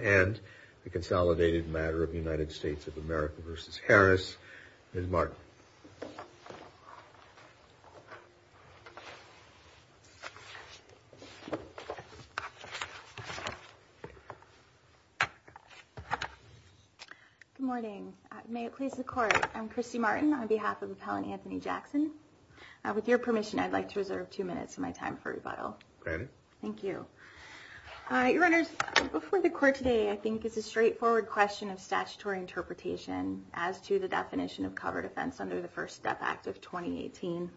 and the consolidated matter of the United States of America v. Harris. Ms. Martin. Good morning. May it please the Court, I'm Christy Martin on behalf of Appellant Anthony Jackson. With your permission, I'd like to reserve two minutes of my time for rebuttal. Granted. Thank you. Your Honors, before the Court today, I think it's a straightforward question of statutory interpretation as to the definition of covered offense under the First Step Act of 2018.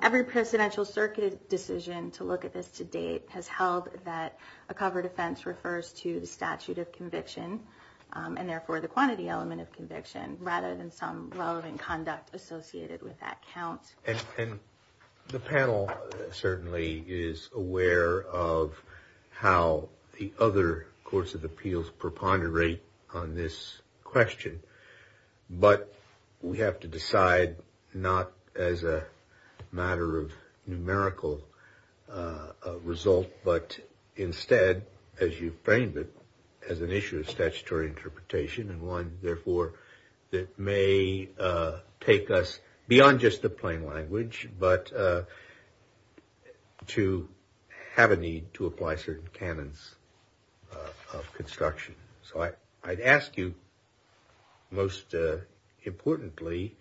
Every presidential circuit decision to look at this to date has held that a covered offense refers to the statute of conviction and therefore the quantity element of conviction rather than some relevant conduct associated with that count. And the panel certainly is aware of how the other courts of appeals preponderate on this question, but we have to decide not as a matter of numerical result but instead, as you framed it, as an issue of statutory interpretation and one, therefore, that may take us beyond just the plain language but to have a need to apply certain canons of construction. So I'd ask you most importantly,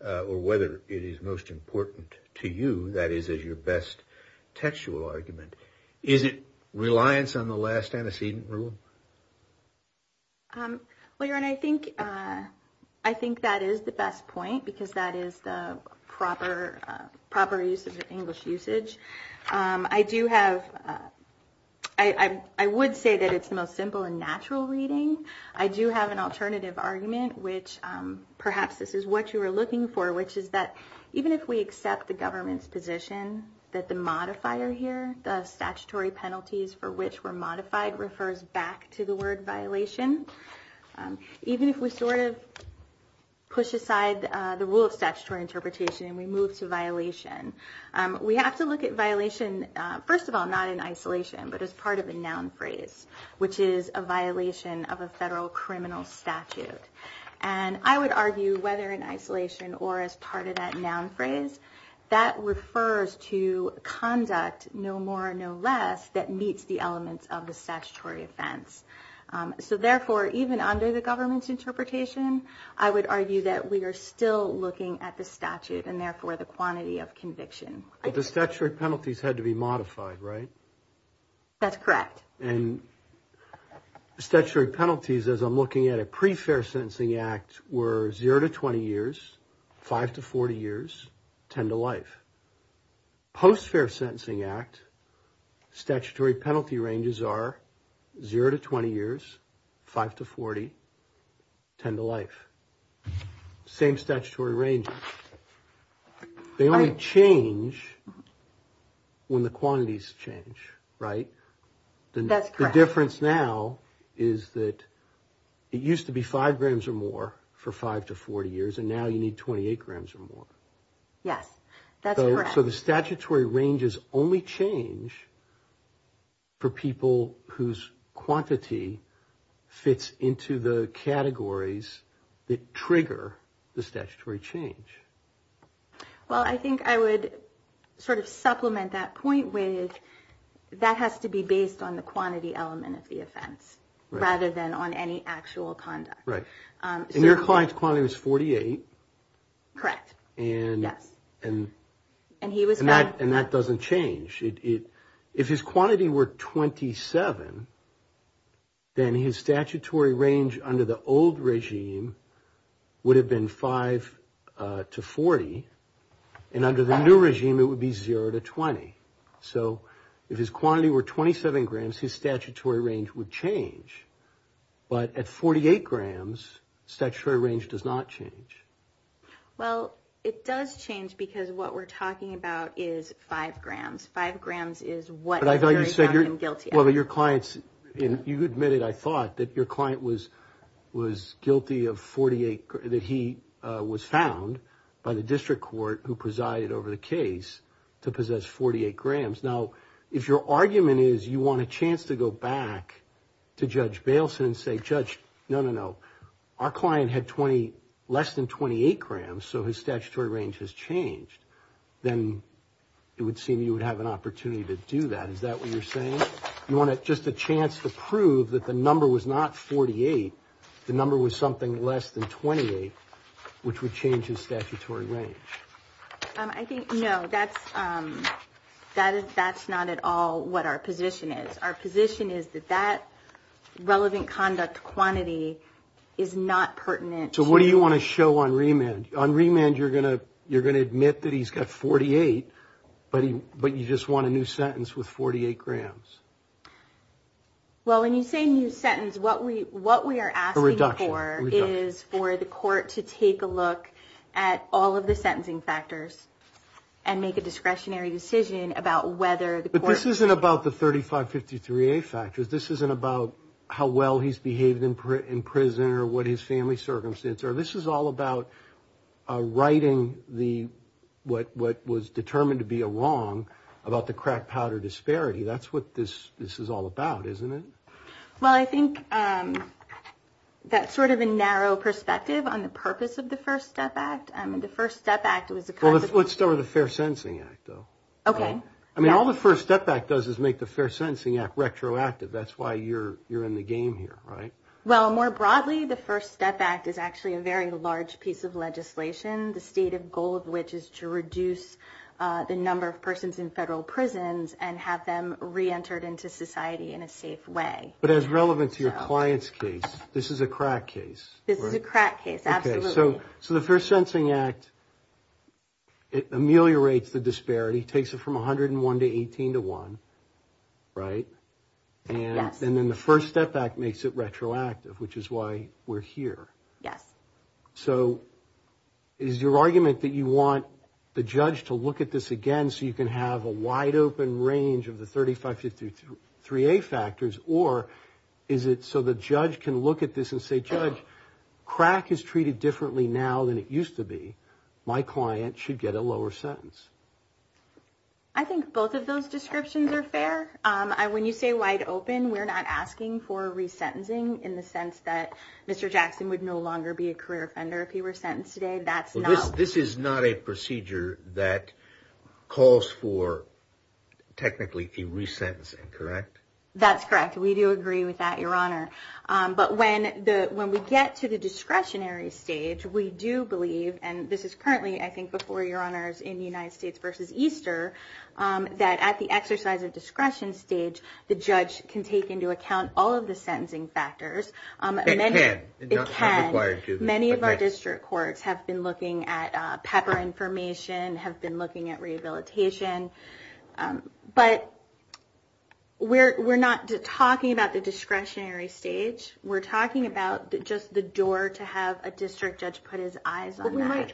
or whether it is most important to you, that is as your best textual argument, is it reliance on the last antecedent rule? Well, Your Honor, I think that is the best point because that is the proper use of the English usage. I would say that it's the most simple and natural reading. I do have an alternative argument, which perhaps this is what you were looking for, which is that even if we accept the government's position that the modifier here, the statutory penalties for which were modified, refers back to the word violation, even if we sort of push aside the rule of statutory interpretation and we move to violation, we have to look at violation, first of all, not in isolation but as part of a noun phrase, which is a violation of a federal criminal statute. And I would argue whether in isolation or as part of that noun phrase, that refers to conduct no more or no less that meets the elements of the statutory offense. I would argue that we are still looking at the statute and, therefore, the quantity of conviction. But the statutory penalties had to be modified, right? That's correct. And statutory penalties, as I'm looking at a pre-fair sentencing act, were 0 to 20 years, 5 to 40 years, 10 to life. Post-fair sentencing act, statutory penalty ranges are 0 to 20 years, 5 to 40, 10 to life. Same statutory range. They only change when the quantities change, right? That's correct. The difference now is that it used to be 5 grams or more for 5 to 40 years, and now you need 28 grams or more. Yes, that's correct. So the statutory ranges only change for people whose quantity fits into the categories that trigger the statutory change. Well, I think I would sort of supplement that point with that has to be based on the quantity element of the offense rather than on any actual conduct. Right. And your client's quantity was 48. Correct. And that doesn't change. If his quantity were 27, then his statutory range under the old regime would have been 5 to 40, and under the new regime it would be 0 to 20. So if his quantity were 27 grams, his statutory range would change. But at 48 grams, statutory range does not change. Well, it does change because what we're talking about is 5 grams. 5 grams is what's really found in guilty. Now, if your argument is you want a chance to go back to Judge Bailson and say, Judge, no, no, no, our client had less than 28 grams, so his statutory range has changed, then it would seem you would have an opportunity to do that. Is that what you're saying? You want just a chance to prove that the number was not 48, the number was something less than 28, which would change his statutory range. I think, no, that's not at all what our position is. Our position is that that relevant conduct quantity is not pertinent. So what do you want to show on remand? On remand, you're going to admit that he's got 48, but you just want a new sentence with 48 grams. Well, when you say new sentence, what we are asking for is for the court to take a look at all of the sentencing factors and make a discretionary decision about whether the court... But this isn't about the 3553A factors. This isn't about how well he's behaved in prison or what his family circumstances are. This is all about writing what was determined to be a wrong about the crack powder disparity. That's what this is all about, isn't it? Well, I think that's sort of a narrow perspective on the purpose of the First Step Act. I mean, the First Step Act was the kind of... Well, let's start with the Fair Sentencing Act, though. Okay. I mean, all the First Step Act does is make the Fair Sentencing Act retroactive. That's why you're in the game here, right? Well, more broadly, the First Step Act is actually a very large piece of legislation, the state of goal of which is to reduce the number of persons in federal prisons and have them reentered into society in a safe way. But as relevant to your client's case, this is a crack case, right? This is a crack case, absolutely. Okay. So the Fair Sentencing Act ameliorates the disparity, takes it from 101 to 18 to 1, right? Yes. And then the First Step Act makes it retroactive, which is why we're here. Yes. So is your argument that you want the judge to look at this again so you can have a wide-open range of the 35 to 3A factors, or is it so the judge can look at this and say, Judge, crack is treated differently now than it used to be. My client should get a lower sentence. I think both of those descriptions are fair. When you say wide-open, we're not asking for resentencing in the sense that Mr. Jackson would no longer be a career offender if he were sentenced today. This is not a procedure that calls for technically the resentencing, correct? That's correct. We do agree with that, Your Honor. But when we get to the discretionary stage, we do believe, and this is currently, I think, before, Your Honors, in United States v. Easter, that at the exercise of discretion stage, the judge can take into account all of the sentencing factors. It can. It can. Many of our district courts have been looking at pepper information, have been looking at rehabilitation. But we're not talking about the discretionary stage. We're talking about just the door to have a district judge put his eyes on that.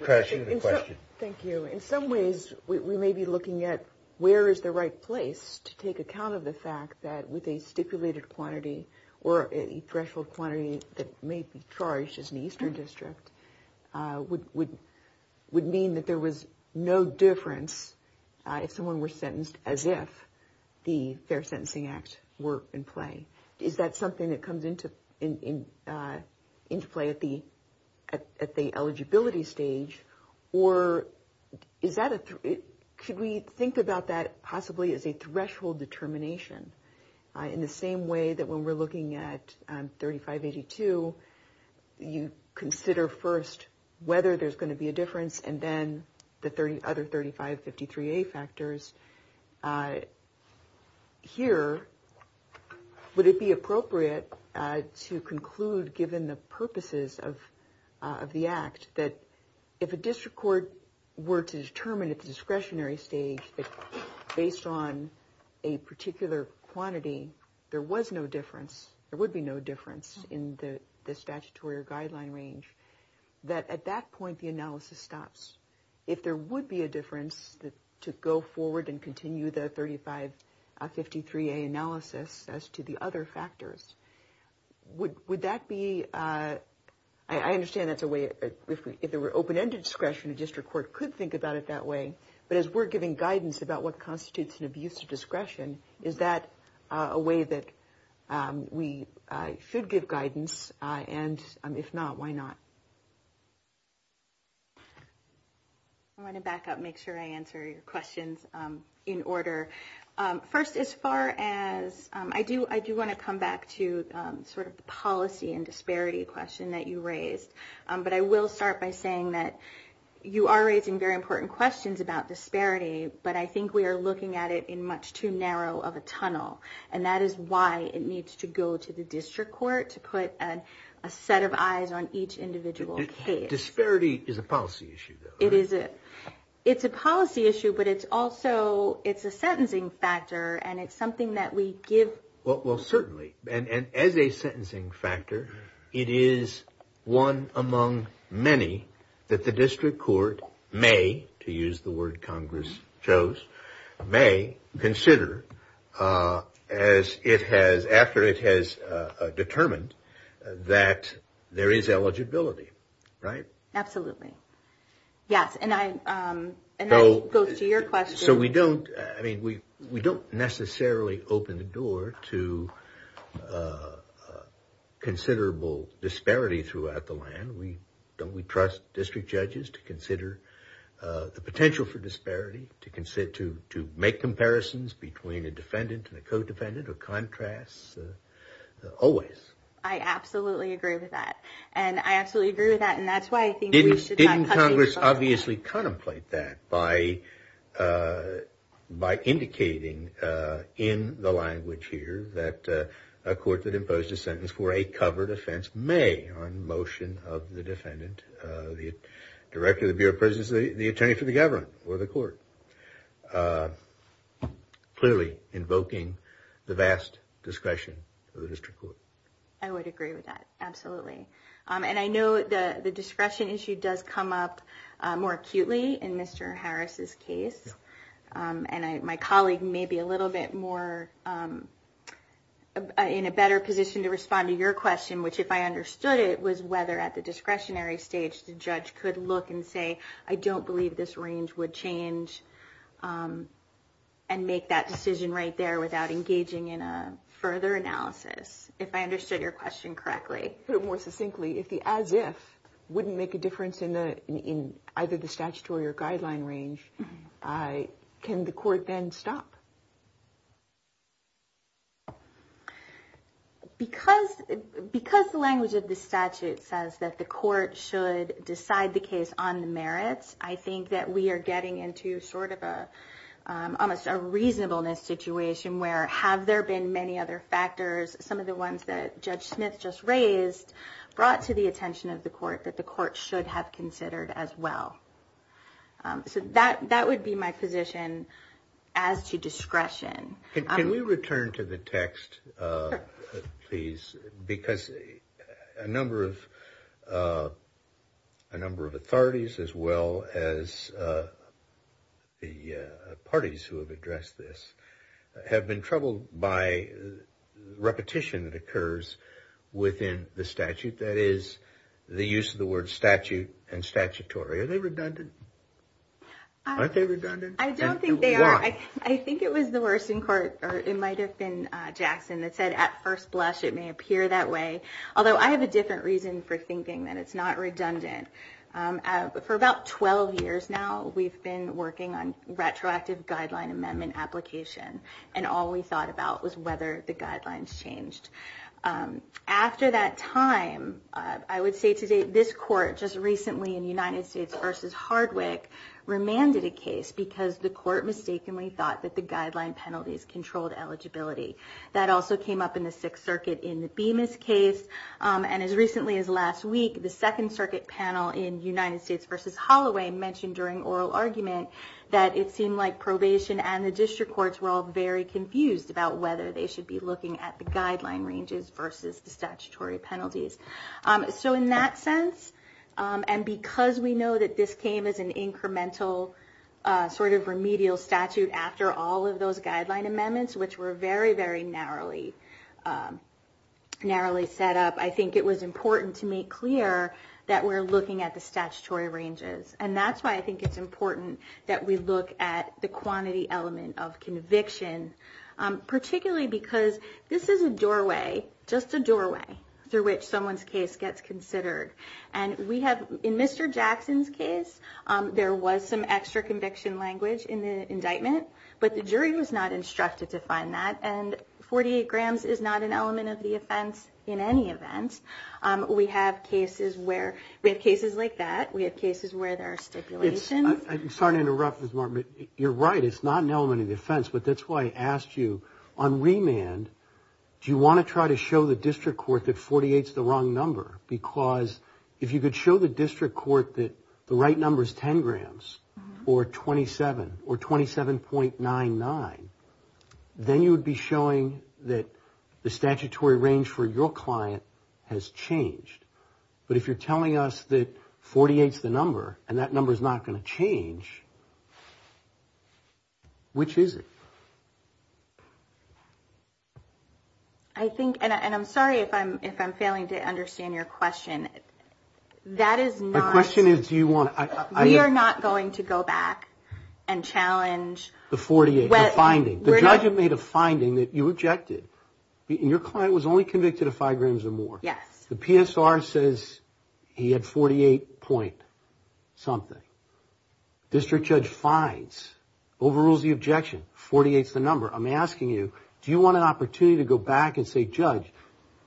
Thank you. In some ways, we may be looking at where is the right place to take account of the fact that with a stipulated quantity or a threshold quantity that may be charged as an Eastern district would mean that there was no difference if someone were sentenced as if the Fair Sentencing Act were in play. Is that something that comes into play at the eligibility stage, or should we think about that possibly as a threshold determination? In the same way that when we're looking at 3582, you consider first whether there's going to be a difference and then the other 3553A factors, here, would it be appropriate to conclude given the purposes of the Act that if a district court were to determine at the discretionary stage that based on a particular quantity, there was no difference, there would be no difference in the statutory or guideline range, that at that point the analysis stops. If there would be a difference to go forward and continue the 3553A analysis as to the other factors, would that be – I understand that's a way – if there were open-ended discretion, a district court could think about it that way. But as we're giving guidance about what constitutes an abuse of discretion, is that a way that we should give guidance? And if not, why not? I want to back up and make sure I answer your questions in order. First, as far as – I do want to come back to sort of the policy and disparity question that you raised. But I will start by saying that you are raising very important questions about disparity, but I think we are looking at it in much too narrow of a tunnel. And that is why it needs to go to the district court to put a set of eyes on each individual case. Disparity is a policy issue, though, right? It is. It's a policy issue, but it's also – it's a sentencing factor, and it's something that we give – Well, certainly. And as a sentencing factor, it is one among many that the district court may – to use the word Congress chose – may consider as it has – after it has determined that there is eligibility, right? Absolutely. Yes, and I go to your question. So we don't – I mean, we don't necessarily open the door to considerable disparity throughout the land. Don't we trust district judges to consider the potential for disparity, to make comparisons between a defendant and a co-defendant, or contrasts? Always. I absolutely agree with that. And I absolutely agree with that, and that's why I think we should – And Congress obviously contemplate that by indicating in the language here that a court that imposed a sentence for a covered offense may, on motion of the defendant, directly the Bureau of Presidency, the attorney for the government or the court, clearly invoking the vast discussion of the district court. I would agree with that. Absolutely. And I know the discretion issue does come up more acutely in Mr. Harris's case, and my colleague may be a little bit more in a better position to respond to your question, which if I understood it was whether at the discretionary stage the judge could look and say, I don't believe this range would change and make that decision right there without engaging in a further analysis. If I understood your question correctly. To put it more succinctly, if the as if wouldn't make a difference in either the statutory or guideline range, can the court then stop? Because the language of this statute says that the court should decide the case on the merits, I think that we are getting into sort of almost a reasonableness situation where have there been many other factors, some of the ones that Judge Smith just raised, brought to the attention of the court that the court should have considered as well. So that would be my position as to discretion. Because a number of authorities as well as the parties who have addressed this have been troubled by repetition that occurs within the statute, that is, the use of the word statute and statutory. Are they redundant? Aren't they redundant? I don't think they are. I think it was the Worsen Court or it might have been Jackson that said at first blush it may appear that way. Although I have a different reason for thinking that it's not redundant. For about 12 years now, we've been working on retroactive guideline amendment application and all we thought about was whether the guidelines changed. After that time, I would say to date this court just recently in United States v. Hardwick remanded a case because the court mistakenly thought that the guideline penalties controlled eligibility. That also came up in the Sixth Circuit in the Bemis case and as recently as last week, the Second Circuit panel in United States v. Holloway mentioned during oral argument that it seemed like probation and the district courts were all very confused about whether they should be looking at the guideline ranges versus the statutory penalties. In that sense and because we know that this came as an incremental sort of remedial statute after all of those guideline amendments, which were very, very narrowly set up, I think it was important to make clear that we're looking at the statutory ranges. That's why I think it's important that we look at the quantity element of conviction, particularly because this is a doorway, just a doorway through which someone's case gets considered. In Mr. Jackson's case, there was some extra conviction language in the indictment, but the jury was not instructed to find that and 48 grams is not an element of the offense in any event. We have cases like that. We have cases where there are stipulations. I'm sorry to interrupt Ms. Martin, but you're right. It's not an element of the offense, but that's why I asked you on remand, do you want to try to show the district court that 48 is the wrong number? Because if you could show the district court that the right number is 10 grams or 27 or 27.99, then you would be showing that the statutory range for your client has changed. But if you're telling us that 48 is the number and that number is not going to change, which is it? I think, and I'm sorry if I'm failing to understand your question. My question is do you want to... We are not going to go back and challenge... The 48, the finding. The judge had made a finding that you objected. Your client was only convicted of five grams or more. Yeah. The PSR says he had 48 point something. District judge finds, overrules the objection, 48 is the number. I'm asking you, do you want an opportunity to go back and say, Judge,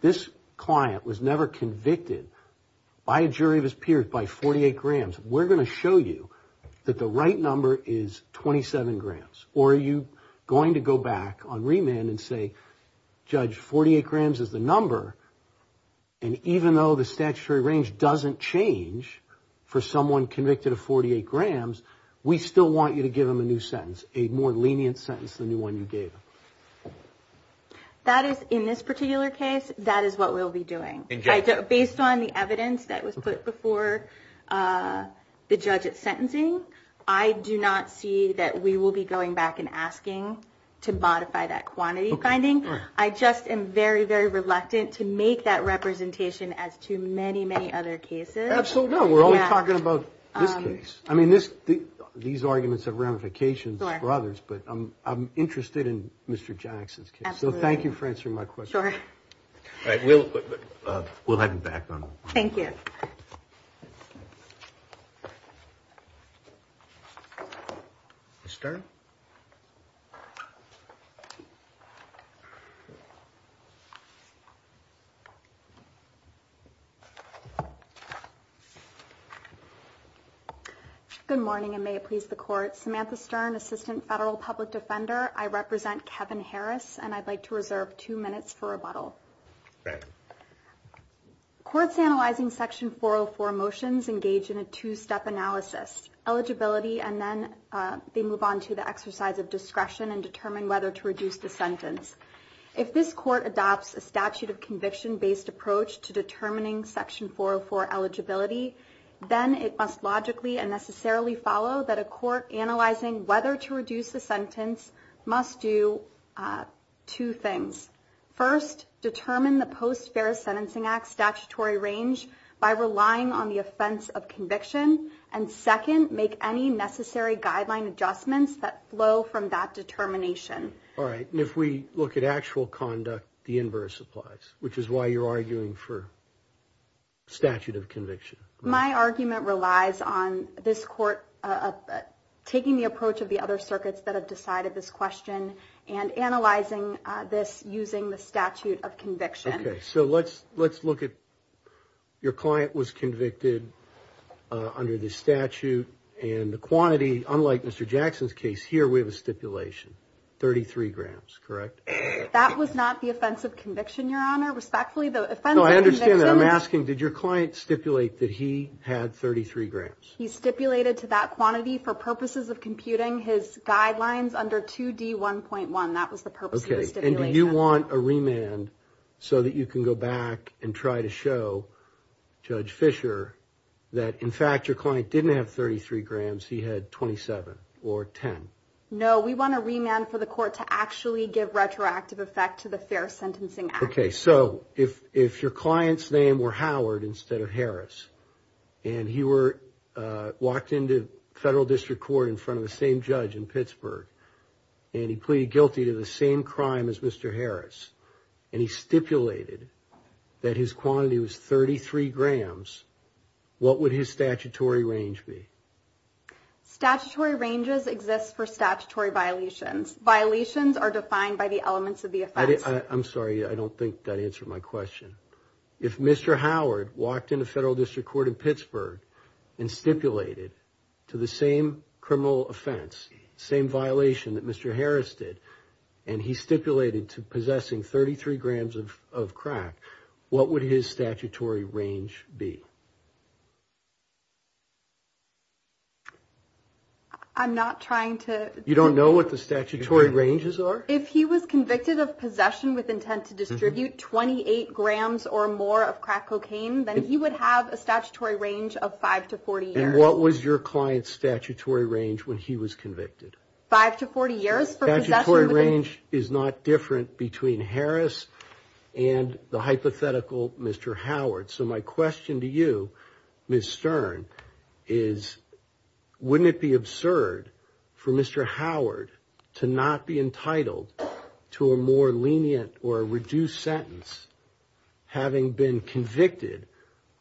this client was never convicted by a jury of his peers by 48 grams. We're going to show you that the right number is 27 grams. Or are you going to go back on remand and say, Judge, 48 grams is the number. And even though the statutory range doesn't change for someone convicted of 48 grams, we still want you to give him a new sentence, a more lenient sentence than the one you gave him. That is, in this particular case, that is what we'll be doing. Based on the evidence that was put before the judge at sentencing, I do not see that we will be going back and asking to modify that quantity finding. I just am very, very reluctant to make that representation as to many, many other cases. Absolutely not. We're only talking about this case. I mean, these arguments have ramifications for others, but I'm interested in Mr. Jackson's case. Absolutely. So thank you for answering my question. Sure. All right. We'll head back on. Thank you. Ms. Stern? Good morning, and may it please the Court. Samantha Stern, Assistant Federal Public Defender. I represent Kevin Harris, and I'd like to reserve two minutes for rebuttal. Go ahead. Courts analyzing Section 404 motions engage in a two-step analysis. Eligibility, and then they move on to the exercise of discretion and determine whether to reduce the sentence. If this Court adopts a statute-of-conviction-based approach to determining Section 404 eligibility, then it must logically and necessarily follow that a court analyzing whether to reduce the sentence must do two things. First, determine the Post-Ferrous Sentencing Act statutory range by relying on the offense of conviction and, second, make any necessary guideline adjustments that flow from that determination. All right. And if we look at actual conduct, the inverse applies, which is why you're arguing for statute of conviction. My argument relies on this Court taking the approach of the other circuits that have decided this question and analyzing this using the statute of conviction. Okay. So let's look at your client was convicted under this statute, and the quantity, unlike Mr. Jackson's case, here we have a stipulation, 33 grams, correct? That was not the offense of conviction, Your Honor, respectfully. No, I understand that. I'm asking did your client stipulate that he had 33 grams? He stipulated to that quantity for purposes of computing his guidelines under 2D1.1. That was the purpose of the stipulation. Okay. And do you want a remand so that you can go back and try to show Judge Fisher that, in fact, your client didn't have 33 grams, he had 27 or 10? No, we want a remand for the Court to actually give retroactive effect to the Ferrous Sentencing Act. Okay. So if your client's name were Howard instead of Harris, and he walked into federal district court in front of the same judge in Pittsburgh, and he pleaded guilty to the same crime as Mr. Harris, and he stipulated that his quantity was 33 grams, what would his statutory range be? Statutory ranges exist for statutory violations. Violations are defined by the elements of the offense. I'm sorry. I don't think that answered my question. If Mr. Howard walked into federal district court in Pittsburgh and stipulated to the same criminal offense, same violation that Mr. Harris did, and he stipulated to possessing 33 grams of crack, what would his statutory range be? I'm not trying to – You don't know what the statutory ranges are? If he was convicted of possession with intent to distribute 28 grams or more of crack cocaine, then he would have a statutory range of 5 to 40 years. And what was your client's statutory range when he was convicted? Five to 40 years for possession with intent. Statutory range is not different between Harris and the hypothetical Mr. Howard. So my question to you, Ms. Stern, is wouldn't it be absurd for Mr. Howard to not be entitled to a more lenient or a reduced sentence having been convicted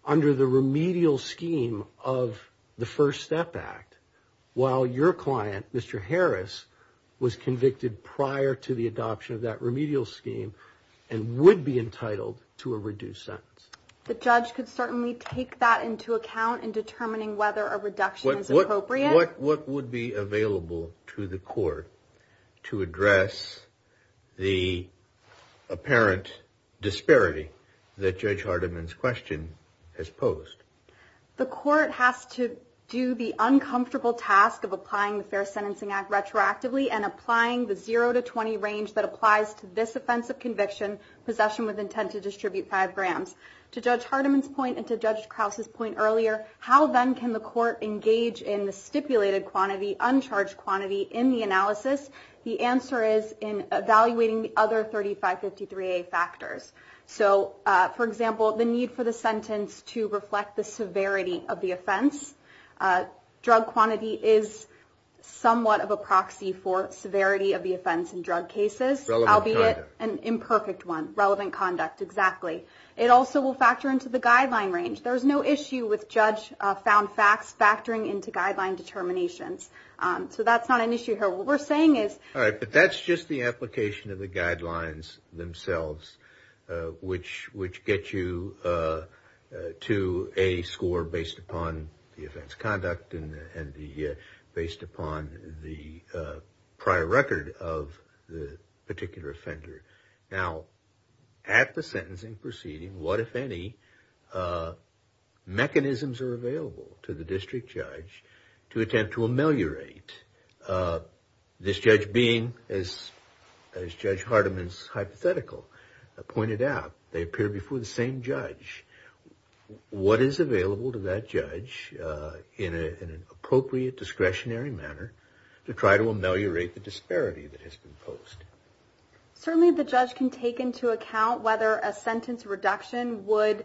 under the remedial scheme of the First Step Act while your client, Mr. Harris, was convicted prior to the adoption of that remedial scheme and would be entitled to a reduced sentence? The judge could certainly take that into account in determining whether a reduction is appropriate. What would be available to the court to address the apparent disparity that Judge Hardiman's question has posed? The court has to do the uncomfortable task of applying the Fair Sentencing Act retroactively and applying the 0 to 20 range that applies to this offense of conviction, possession with intent to distribute 5 grams. To Judge Hardiman's point and to Judge Krause's point earlier, how then can the court engage in the stipulated quantity, uncharged quantity in the analysis? The answer is in evaluating the other 3553A factors. So, for example, the need for the sentence to reflect the severity of the offense. Drug quantity is somewhat of a proxy for severity of the offense in drug cases, albeit an imperfect one. Relevant conduct. Relevant conduct, exactly. It also will factor into the guideline range. There's no issue with judge-found facts factoring into guideline determinations. So that's not an issue here. What we're saying is- All right, but that's just the application of the guidelines themselves, which get you to a score based upon the offense conduct and based upon the prior record of the particular offender. Now, at the sentencing proceeding, what, if any, mechanisms are available to the district judge to attempt to ameliorate this judge being, as Judge Hardiman's hypothetical pointed out, they appear before the same judge. What is available to that judge in an appropriate discretionary manner to try to ameliorate the disparity that has been posed? Certainly, the judge can take into account whether a sentence reduction would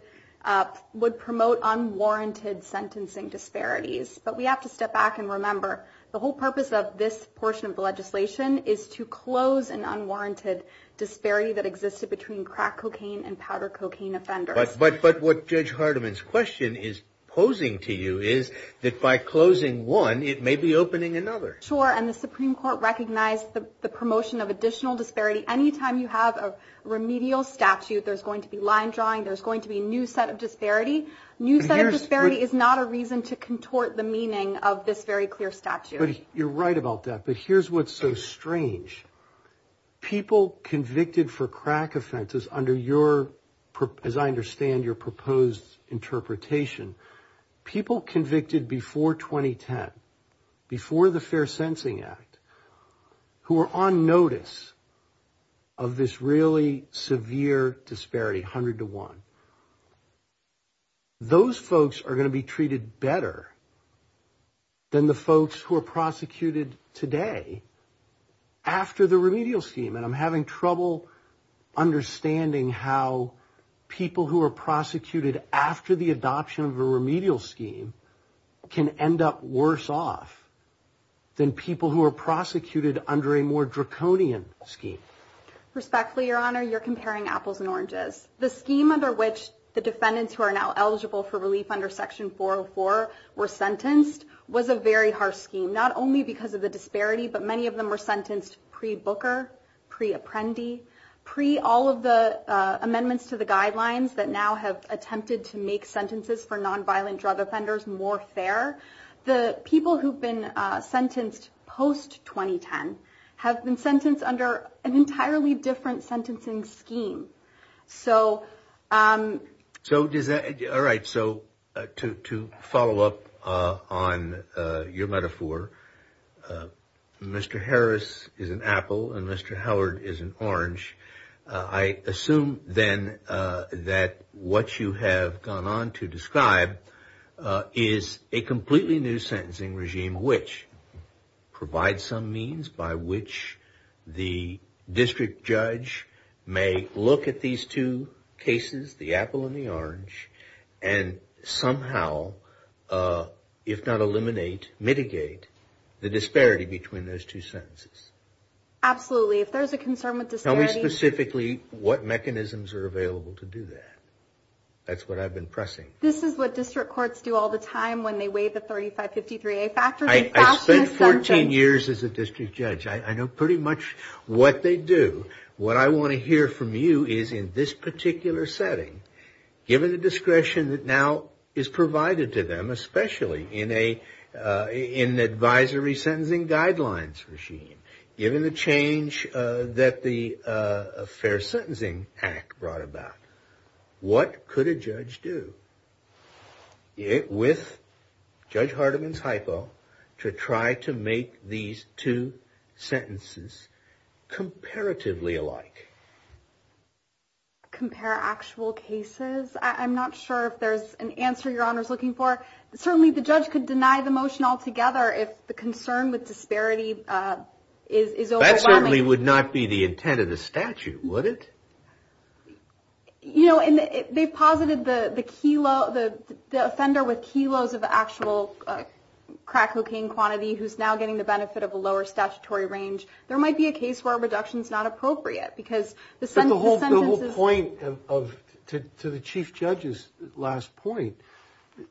promote unwarranted sentencing disparities. But we have to step back and remember the whole purpose of this portion of the legislation is to close an unwarranted disparity that existed between crack cocaine and powder cocaine offenders. But what Judge Hardiman's question is posing to you is that by closing one, it may be opening another. Sure, and the Supreme Court recognized the promotion of additional disparity. Anytime you have a remedial statute, there's going to be line drawing, there's going to be a new set of disparities. New set of disparities is not a reason to contort the meaning of this very clear statute. You're right about that, but here's what's so strange. People convicted for crack offenses under your, as I understand, your proposed interpretation, people convicted before 2010, before the Fair Sensing Act, who are on notice of this really severe disparity, 100 to 1, those folks are going to be treated better than the folks who are prosecuted today after the remedial scheme. And I'm having trouble understanding how people who are prosecuted after the adoption of a remedial scheme can end up worse off than people who are prosecuted under a more draconian scheme. Respectfully, Your Honor, you're comparing apples and oranges. The scheme under which the defendants who are now eligible for relief under Section 404 were sentenced was a very harsh scheme, not only because of the disparity, but many of them were sentenced pre-Booker, pre-Apprendi, pre-all of the amendments to the guidelines that now have attempted to make sentences for nonviolent drug offenders more fair. The people who've been sentenced post-2010 have been sentenced under an entirely different sentencing scheme. All right, so to follow up on your metaphor, Mr. Harris is an apple and Mr. Howard is an orange. I assume then that what you have gone on to describe is a completely new sentencing regime which provides some means by which the district judge may look at these two cases, the apple and the orange, and somehow, if not eliminate, mitigate the disparity between those two sentences. Absolutely. If there's a concern with disparity... Tell me specifically what mechanisms are available to do that. That's what I've been pressing. This is what district courts do all the time when they weigh the 3553A factors. I spent 14 years as a district judge. I know pretty much what they do. What I want to hear from you is in this particular setting, given the discretion that now is provided to them, especially in the advisory sentencing guidelines regime, given the change that the Fair Sentencing Act brought about, what could a judge do with Judge Hardiman's hypo to try to make these two sentences comparatively alike? Compare actual cases? I'm not sure if there's an answer Your Honor is looking for. Certainly, the judge could deny the motion altogether if the concern with disparity is... That certainly would not be the intent of the statute, would it? You know, and they posited the offender with kilos of actual crack cocaine quantity who's now getting the benefit of a lower statutory range. There might be a case where a reduction is not appropriate because the sentence is... But the whole point to the Chief Judge's last point,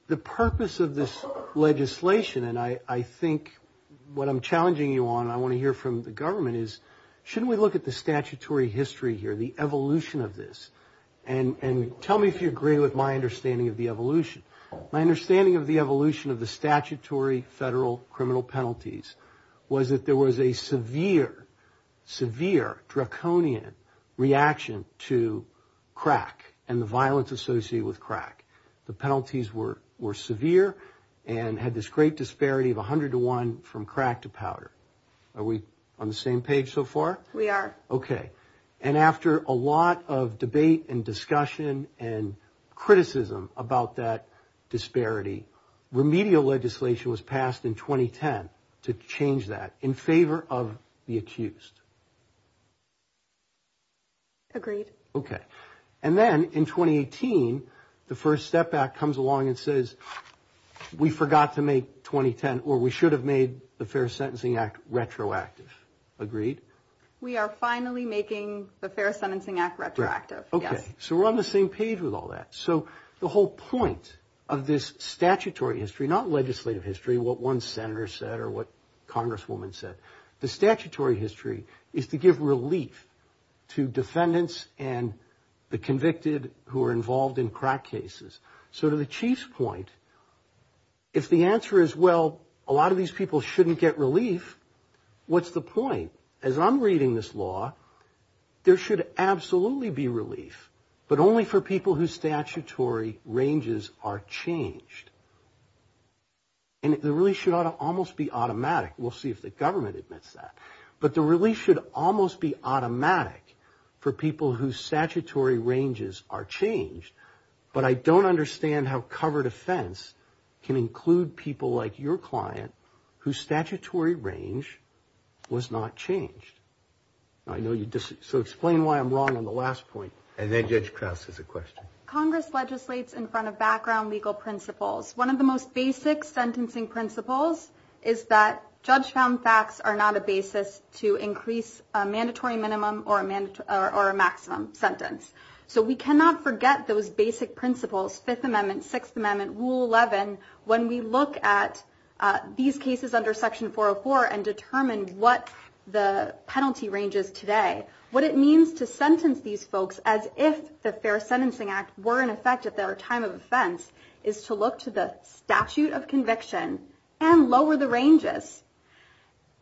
the purpose of this legislation, and I think what I'm challenging you on and I want to hear from the government is, shouldn't we look at the statutory history here, the evolution of this? And tell me if you agree with my understanding of the evolution. My understanding of the evolution of the statutory federal criminal penalties was that there was a severe, severe draconian reaction to crack and the violence associated with crack. The penalties were severe and had this great disparity of 100 to 1 from crack to powder. Are we on the same page so far? We are. Okay. Remedial legislation was passed in 2010 to change that in favor of the accused. Agreed. Okay. And then in 2018, the First Step Act comes along and says, we forgot to make 2010 or we should have made the Fair Sentencing Act retroactive. Agreed? We are finally making the Fair Sentencing Act retroactive. Okay. So we're on the same page with all that. So the whole point of this statutory history, not legislative history, what one senator said or what Congresswoman said, the statutory history is to give relief to defendants and the convicted who are involved in crack cases. So to the Chief's point, if the answer is, well, a lot of these people shouldn't get relief, what's the point? As I'm reading this law, there should absolutely be relief, but only for people whose statutory ranges are changed. And the relief should almost be automatic. We'll see if the government admits that. But the relief should almost be automatic for people whose statutory ranges are changed. But I don't understand how covered offense can include people like your client whose statutory range was not changed. So explain why I'm wrong on the last point. And then Judge Krause has a question. Congress legislates in front of background legal principles. One of the most basic sentencing principles is that judge-found facts are not a basis to increase a mandatory minimum or a maximum sentence. So we cannot forget those basic principles, Fifth Amendment, Sixth Amendment, Rule 11, when we look at these cases under Section 404 and determine what the penalty range is today, what it means to sentence these folks as if the Fair Sentencing Act were in effect at their time of offense is to look to the statute of conviction and lower the ranges.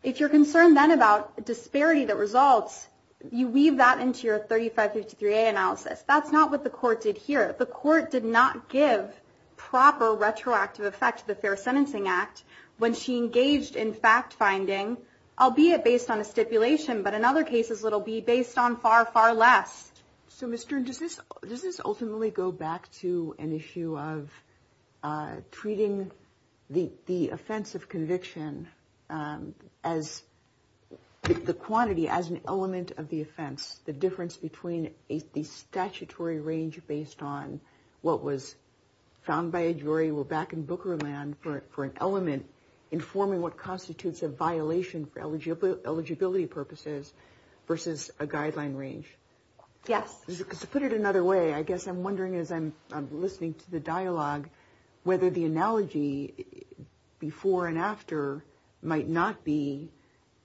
If you're concerned then about disparity that results, you weave that into your 3553A analysis. That's not what the court did here. The court did not give proper retroactive effect to the Fair Sentencing Act when she engaged in fact-finding, albeit based on a stipulation, but in other cases it will be based on far, far less. So, Ms. Stern, does this ultimately go back to an issue of treating the offense of conviction as the quantity, as an element of the offense, the difference between the statutory range based on what was found by a jury for an element informing what constitutes a violation for eligibility purposes versus a guideline range? Yes. To put it another way, I guess I'm wondering as I'm listening to the dialogue whether the analogy before and after might not be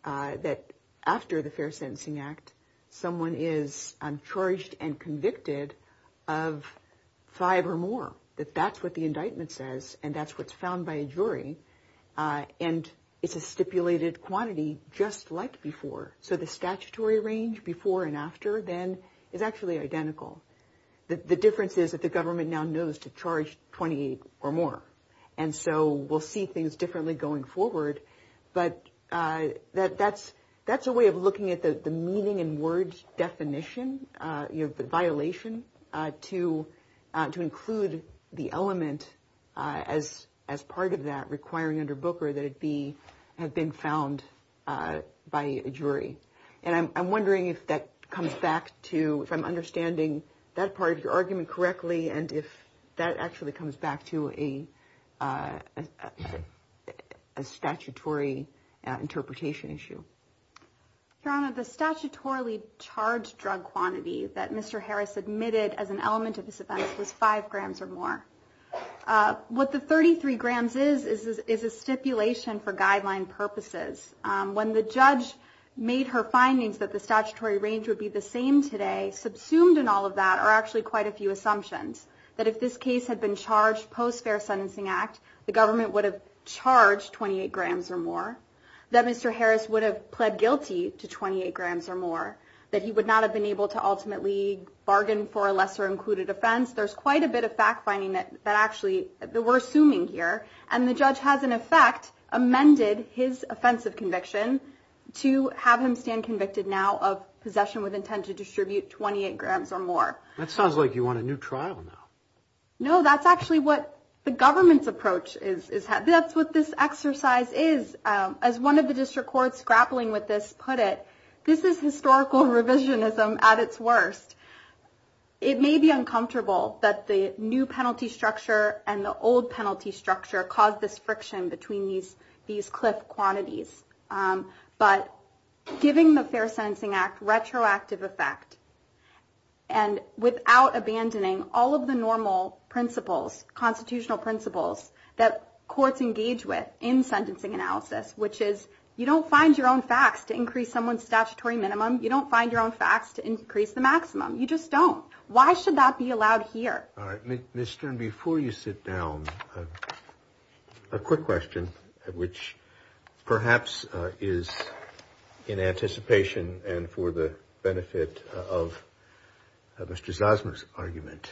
that after the Fair Sentencing Act someone is charged and convicted of five or more, that that's what the indictment says and that's what's found by a jury, and it's a stipulated quantity just like before. So the statutory range before and after then is actually identical. The difference is that the government now knows to charge 28 or more, and so we'll see things differently going forward, but that's a way of looking at the meaning in words definition, the violation, to include the element as part of that requiring under Booker that it have been found by a jury. And I'm wondering if that comes back to, if I'm understanding that part of your argument correctly and if that actually comes back to a statutory interpretation issue. Your Honor, the statutorily charged drug quantity that Mr. Harris admitted as an element of this offense was five grams or more. What the 33 grams is is a stipulation for guideline purposes. When the judge made her findings that the statutory range would be the same today, subsumed in all of that are actually quite a few assumptions, that if this case had been charged post-Fair Sentencing Act, the government would have charged 28 grams or more, that Mr. Harris would have pled guilty to 28 grams or more, that he would not have been able to ultimately bargain for a lesser included offense. There's quite a bit of fact-finding that actually we're assuming here, and the judge has in effect amended his offensive conviction to have him stand convicted now of possession with intent to distribute 28 grams or more. That sounds like you want a new trial now. No, that's actually what the government's approach is. That's what this exercise is. As one of the district courts grappling with this put it, this is historical revisionism at its worst. It may be uncomfortable that the new penalty structure and the old penalty structure caused this friction between these cliff quantities, but giving the Fair Sentencing Act retroactive effect and without abandoning all of the normal principles, constitutional principles, that courts engage with in sentencing analysis, which is you don't find your own facts to increase someone's statutory minimum. You don't find your own facts to increase the maximum. You just don't. Why should that be allowed here? All right. Ms. Stern, before you sit down, a quick question, which perhaps is in anticipation and for the benefit of Mr. Zosma's argument.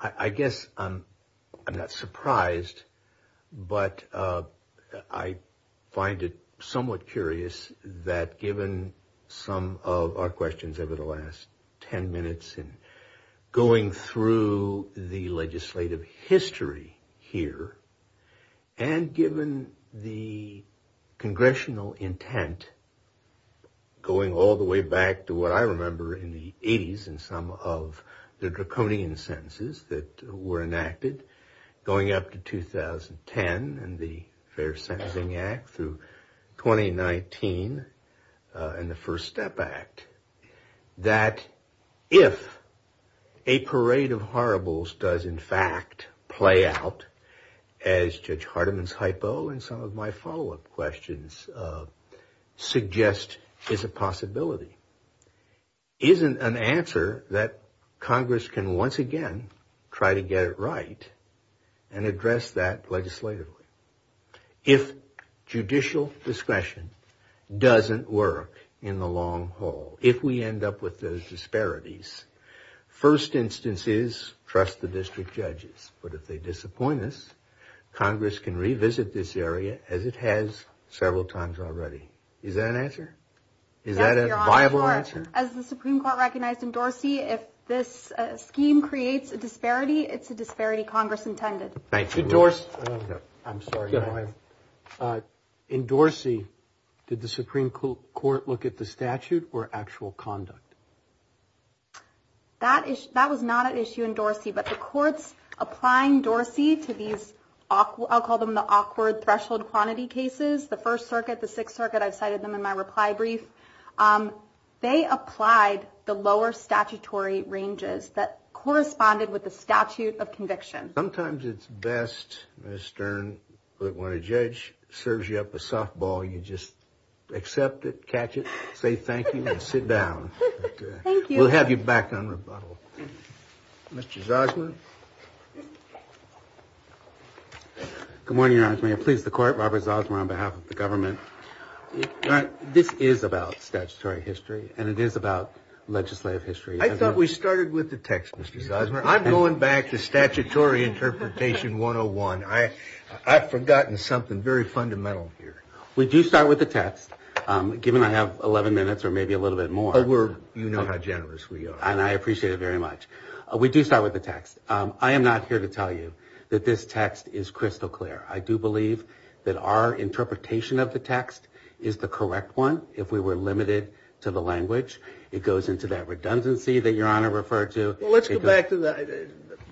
I guess I'm not surprised, but I find it somewhat curious that given some of our questions over the last ten minutes and going through the legislative history here and given the congressional intent going all the way back to what I remember in the 80s and some of the draconian sentences that were enacted going up to 2010 and the Fair Sentencing Act through 2019 and the First Step Act, that if a parade of horribles does in fact play out, as Judge Hardiman's hypo and some of my follow-up questions suggest is a possibility, isn't an answer that Congress can once again try to get it right and address that legislatively. If judicial discretion doesn't work in the long haul, if we end up with those disparities, first instance is trust the district judges. But if they disappoint us, Congress can revisit this area as it has several times already. Is that an answer? Is that a viable answer? As the Supreme Court recognized in Dorsey, if this scheme creates a disparity, it's a disparity Congress intended. In Dorsey, did the Supreme Court look at the statute or actual conduct? That was not an issue in Dorsey, but the courts applying Dorsey to these, I'll call them the awkward threshold quantity cases, the First Circuit, the Sixth Circuit, I cited them in my reply brief, they applied the lower statutory ranges that corresponded with the statute of conviction. Sometimes it's best, Ms. Stern, that when a judge serves you up a softball, you just accept it, catch it, say thank you, and sit down. Thank you. We'll have you back in a moment. Mr. Zosma. Good morning, Your Honor. Mr. Zosma, please, the court, Robert Zosma on behalf of the government. This is about statutory history, and it is about legislative history. I thought we started with the text, Mr. Zosma. I'm going back to statutory interpretation 101. I've forgotten something very fundamental here. We do start with the text, given I have 11 minutes or maybe a little bit more. But you know how generous we are. And I appreciate it very much. We do start with the text. I am not here to tell you that this text is crystal clear. I do believe that our interpretation of the text is the correct one. If we were limited to the language, it goes into that redundancy that Your Honor referred to. Well, let's go back to that.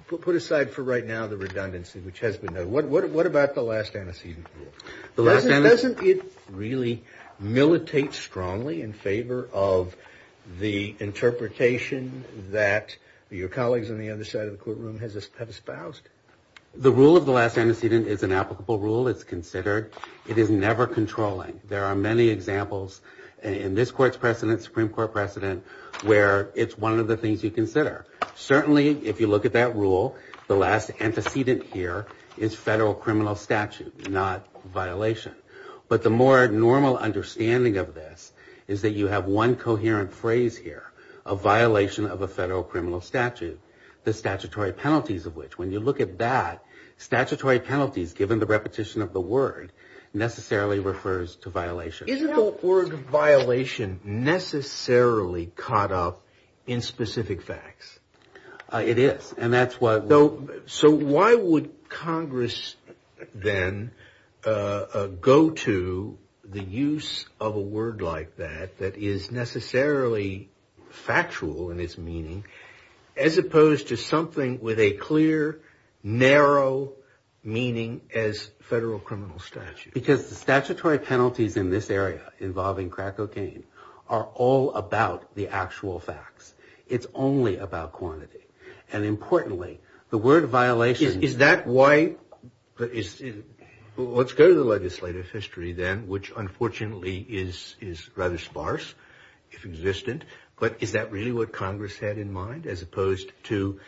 Put aside for right now the redundancy, which has been noted. What about the last antecedent? Doesn't it really militate strongly in favor of the interpretation that your colleagues on the other side of the courtroom have espoused? The rule of the last antecedent is an applicable rule. It's considered. It is never controlling. There are many examples in this Court's precedent, Supreme Court precedent, where it's one of the things you consider. Certainly, if you look at that rule, the last antecedent here is federal criminal statute, not violation. But the more normal understanding of this is that you have one coherent phrase here, a violation of a federal criminal statute, the statutory penalties of which, when you look at that, statutory penalties, given the repetition of the word, necessarily refers to violation. Isn't the word violation necessarily caught up in specific facts? It is. So why would Congress then go to the use of a word like that, that is necessarily factual in its meaning, as opposed to something with a clear, narrow meaning as federal criminal statute? Because the statutory penalties in this area involving crack cocaine are all about the actual facts. It's only about quantity. And importantly, the word violation – Is that why – let's go to the legislative history then, which unfortunately is rather sparse, if existent. But is that really what Congress had in mind, as opposed to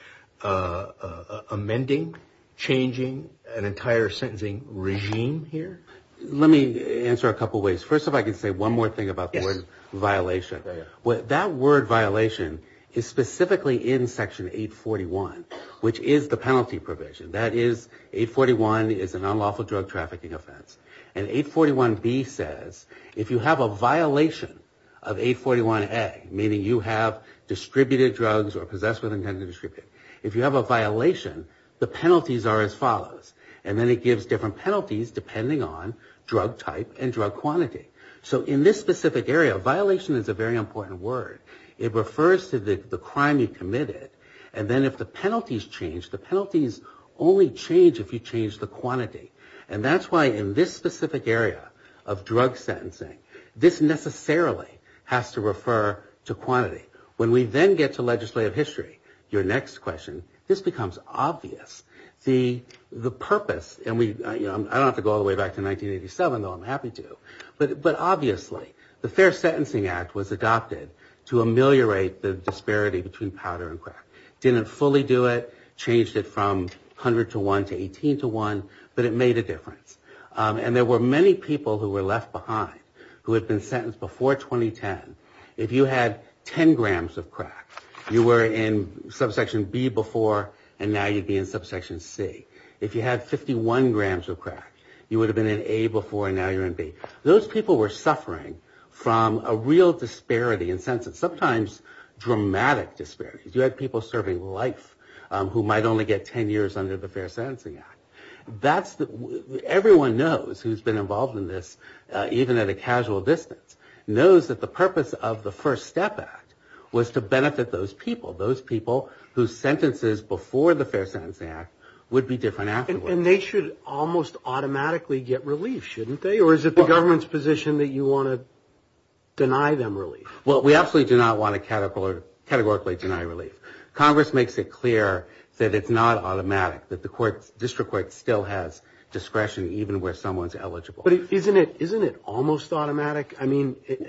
amending, changing an entire sentencing regime here? Let me answer a couple of ways. First of all, I can say one more thing about the word violation. That word violation is specifically in Section 841, which is the penalty provision. That is, 841 is an unlawful drug trafficking offense. And 841B says, if you have a violation of 841A, meaning you have distributed drugs or possess with intent to distribute, if you have a violation, the penalties are as follows. And then it gives different penalties depending on drug type and drug quantity. So in this specific area, violation is a very important word. It refers to the crime you've committed. And then if the penalties change, the penalties only change if you change the quantity. And that's why in this specific area of drug sentencing, this necessarily has to refer to quantity. When we then get to legislative history, your next question, this becomes obvious. The purpose – and I don't have to go all the way back to 1987, though I'm happy to. But obviously, the Fair Sentencing Act was adopted to ameliorate the disparity between powder and crack. It didn't fully do it, changed it from 100 to 1 to 18 to 1, but it made a difference. And there were many people who were left behind who had been sentenced before 2010. If you had 10 grams of crack, you were in Subsection B before, and now you'd be in Subsection C. If you had 51 grams of crack, you would have been in A before, and now you're in B. Those people were suffering from a real disparity in sentences, sometimes dramatic disparity. You had people serving life who might only get 10 years under the Fair Sentencing Act. Everyone knows who's been involved in this, even at a casual distance, knows that the purpose of the First Step Act was to benefit those people, those people whose sentences before the Fair Sentencing Act would be different afterwards. And they should almost automatically get relief, shouldn't they? Or is it the government's position that you want to deny them relief? Well, we absolutely do not want to categorically deny relief. Congress makes it clear that it's not automatic, that the district court still has discretion even where someone's eligible. But isn't it almost automatic?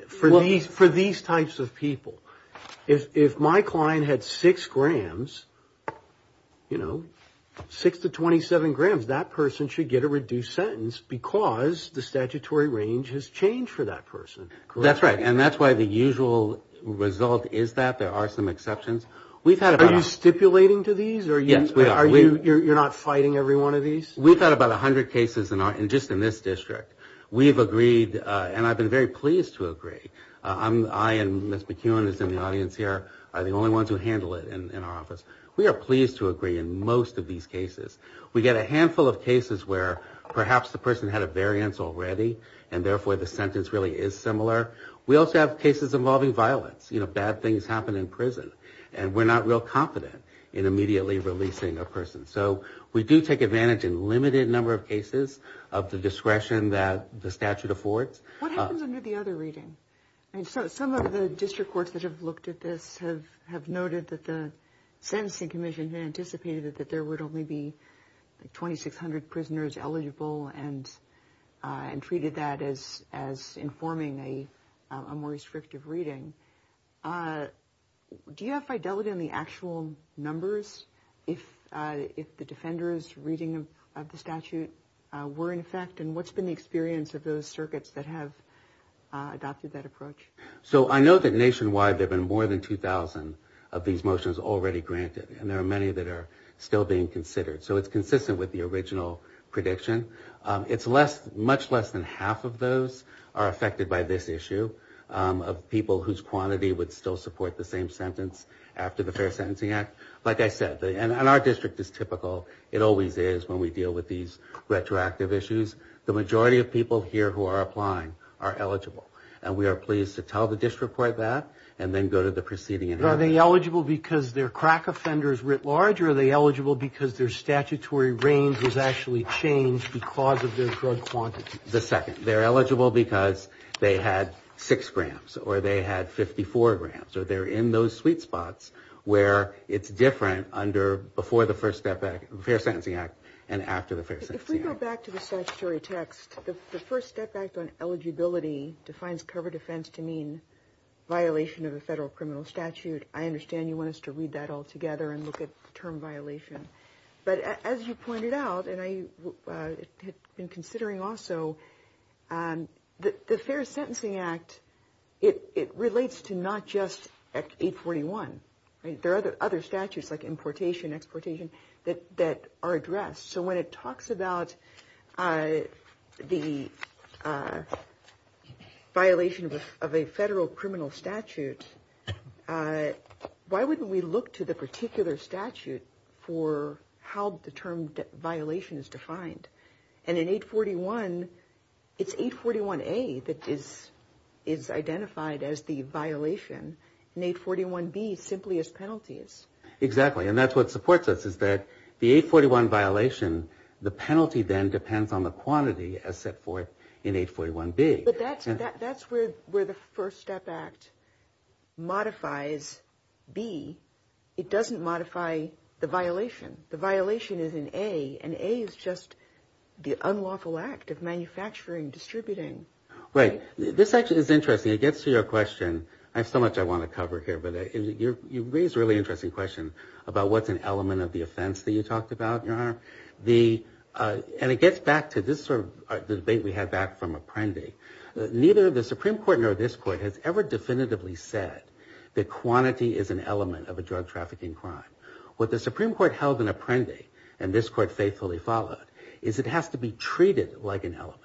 For these types of people, if my client had 6 grams, 6 to 27 grams, that person should get a reduced sentence because the statutory range has changed for that person. That's right, and that's why the usual result is that there are some exceptions. Are you stipulating to these? Yes, we are. You're not fighting every one of these? We've had about 100 cases just in this district. We've agreed, and I've been very pleased to agree. I and Mr. Kuhn, who's in the audience here, are the only ones who handle it in our office. We are pleased to agree in most of these cases. We get a handful of cases where perhaps the person had a variance already, and therefore the sentence really is similar. We also have cases involving violence. You know, bad things happen in prison, and we're not real confident in immediately releasing a person. So we do take advantage in a limited number of cases of the discretion that the statute affords. What happened under the other reading? Some of the district courts that have looked at this have noted that the sentencing commission had anticipated that there would only be 2,600 prisoners eligible and treated that as informing a more restrictive reading. Do you have fidelity in the actual numbers if the defenders' reading of the statute were in effect, and what's been the experience of those circuits that have adopted that approach? So I know that nationwide there have been more than 2,000 of these motions already granted, and there are many that are still being considered. So it's consistent with the original prediction. Much less than half of those are affected by this issue, of people whose quantity would still support the same sentence after the Fair Sentencing Act. Like I said, and our district is typical. It always is when we deal with these retroactive issues. The majority of people here who are applying are eligible, and we are pleased to tell the district court that and then go to the proceeding. Are they eligible because their crack offender is writ large, or are they eligible because their statutory range has actually changed because of their drug quantity? The second. They're eligible because they had six grants, or they had 54 grants, or they're in those sweet spots where it's different before the Fair Sentencing Act and after the Fair Sentencing Act. If we go back to the statutory text, the first step act on eligibility defines cover defense to mean violation of a federal criminal statute. I understand you want us to read that all together and look at the term violation. But as you pointed out, and I had been considering also, the Fair Sentencing Act, it relates to not just 841. There are other statutes like importation, exportation that are addressed. So when it talks about the violation of a federal criminal statute, why wouldn't we look to the particular statute for how the term violation is defined? And in 841, it's 841A that is identified as the violation, and 841B simply as penalties. Exactly, and that's what supports us is that the 841 violation, the penalty then depends on the quantity as set forth in 841B. But that's where the first step act modifies B. It doesn't modify the violation. The violation is in A, and A is just the unlawful act of manufacturing, distributing. Right. This section is interesting. It gets to your question. I have so much I want to cover here, but you raised a really interesting question about what's an element of the offense that you talked about, Your Honor. And it gets back to this sort of debate we had back from Apprendi. Neither the Supreme Court nor this court has ever definitively said that quantity is an element of a drug trafficking crime. What the Supreme Court held in Apprendi, and this court faithfully followed, is it has to be treated like an element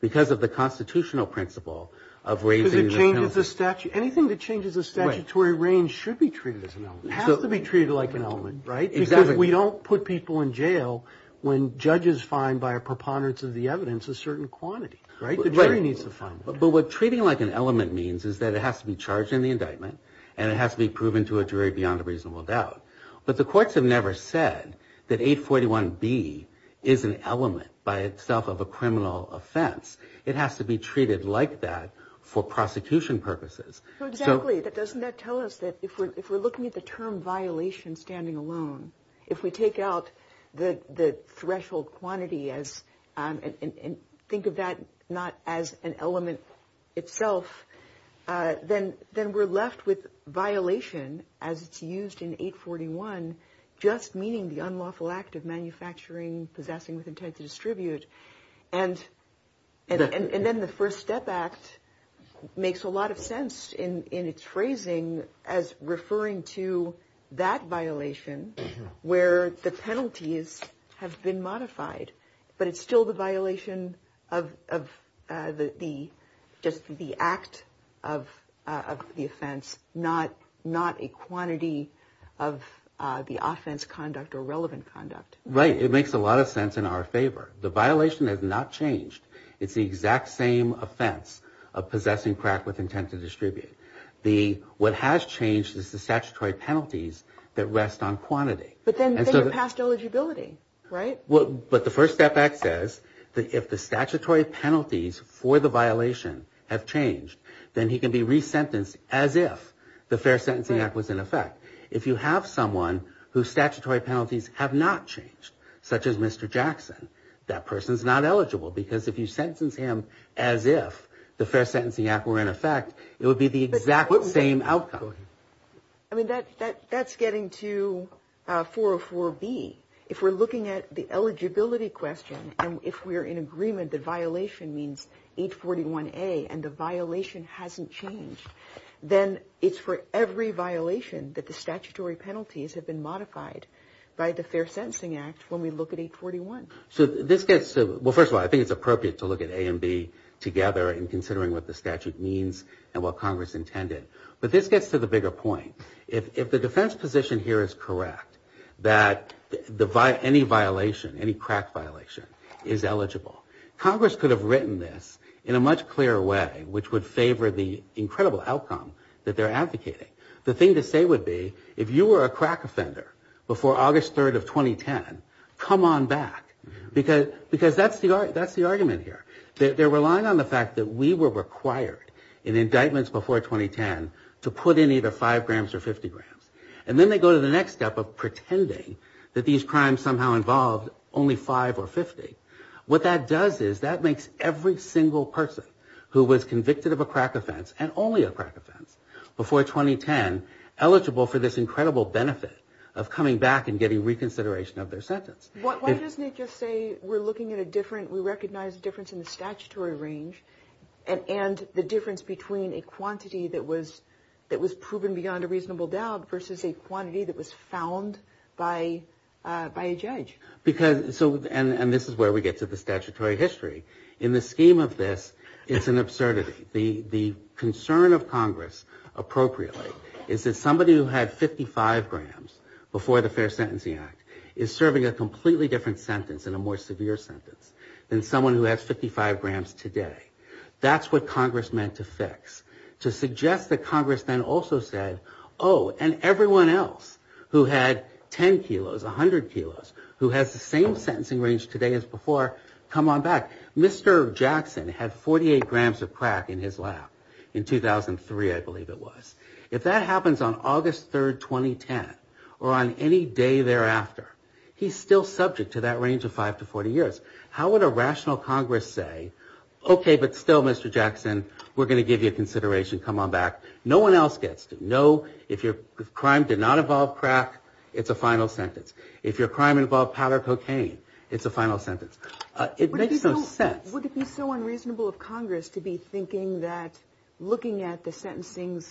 because of the constitutional principle of raising the penalty. Anything that changes the statutory range should be treated as an element. It has to be treated like an element because we don't put people in jail when judges find by a preponderance of the evidence a certain quantity. The jury needs to find that. But what treating like an element means is that it has to be charged in the indictment and it has to be proven to a jury beyond a reasonable doubt. But the courts have never said that 841B is an element by itself of a criminal offense. It has to be treated like that for prosecution purposes. Exactly, but doesn't that tell us that if we're looking at the term violation standing alone, if we take out the threshold quantity and think of that not as an element itself, then we're left with violation as it's used in 841, just meaning the unlawful act of manufacturing, possessing with intent to distribute. And then the First Step Act makes a lot of sense in its phrasing as referring to that violation where the penalties have been modified. But it's still the violation of the act of the offense, not a quantity of the offense conduct or relevant conduct. Right, it makes a lot of sense in our favor. The violation has not changed. It's the exact same offense of possessing crack with intent to distribute. What has changed is the statutory penalties that rest on quantity. But then you're passed eligibility, right? But the First Step Act says that if the statutory penalties for the violation have changed, then he can be resentenced as if the Fair Sentencing Act was in effect. If you have someone whose statutory penalties have not changed, such as Mr. Jackson, that person is not eligible because if you sentence him as if the Fair Sentencing Act were in effect, it would be the exact same outcome. I mean, that's getting to 404B. If we're looking at the eligibility question, if we're in agreement that violation means 841A and the violation hasn't changed, then it's for every violation that the statutory penalties have been modified by the Fair Sentencing Act when we look at 841. Well, first of all, I think it's appropriate to look at A and B together in considering what the statute means and what Congress intended. But this gets to the bigger point. If the defense position here is correct that any violation, any crack violation, is eligible, Congress could have written this in a much clearer way, which would favor the incredible outcome that they're advocating. The thing to say would be if you were a crack offender before August 3rd of 2010, come on back. Because that's the argument here. They're relying on the fact that we were required in indictments before 2010 to put in either 5 grams or 50 grams. And then they go to the next step of pretending that these crimes somehow involved only 5 or 50. What that does is that makes every single person who was convicted of a crack offense and only a crack offense before 2010 eligible for this incredible benefit of coming back and getting reconsideration of their sentence. Why doesn't it just say we're looking at a different, we recognize a difference in the statutory range and the difference between a quantity that was proven beyond a reasonable doubt versus a quantity that was found by a judge? And this is where we get to the statutory history. In the scheme of this, it's an absurdity. The concern of Congress, appropriately, is that somebody who had 55 grams before the Fair Sentencing Act is serving a completely different sentence and a more severe sentence than someone who has 55 grams today. That's what Congress meant to fix. To suggest that Congress then also said, oh, and everyone else who had 10 kilos, 100 kilos, who has the same sentencing range today as before, come on back. Mr. Jackson had 48 grams of crack in his lap in 2003, I believe it was. If that happens on August 3, 2010, or on any day thereafter, he's still subject to that range of 5 to 40 years. How would a rational Congress say, okay, but still, Mr. Jackson, we're going to give you a consideration, come on back. No one else gets it. No, if your crime did not involve crack, it's a final sentence. If your crime involved powder cocaine, it's a final sentence. It makes no sense. Would it be so unreasonable of Congress to be thinking that, looking at the sentencing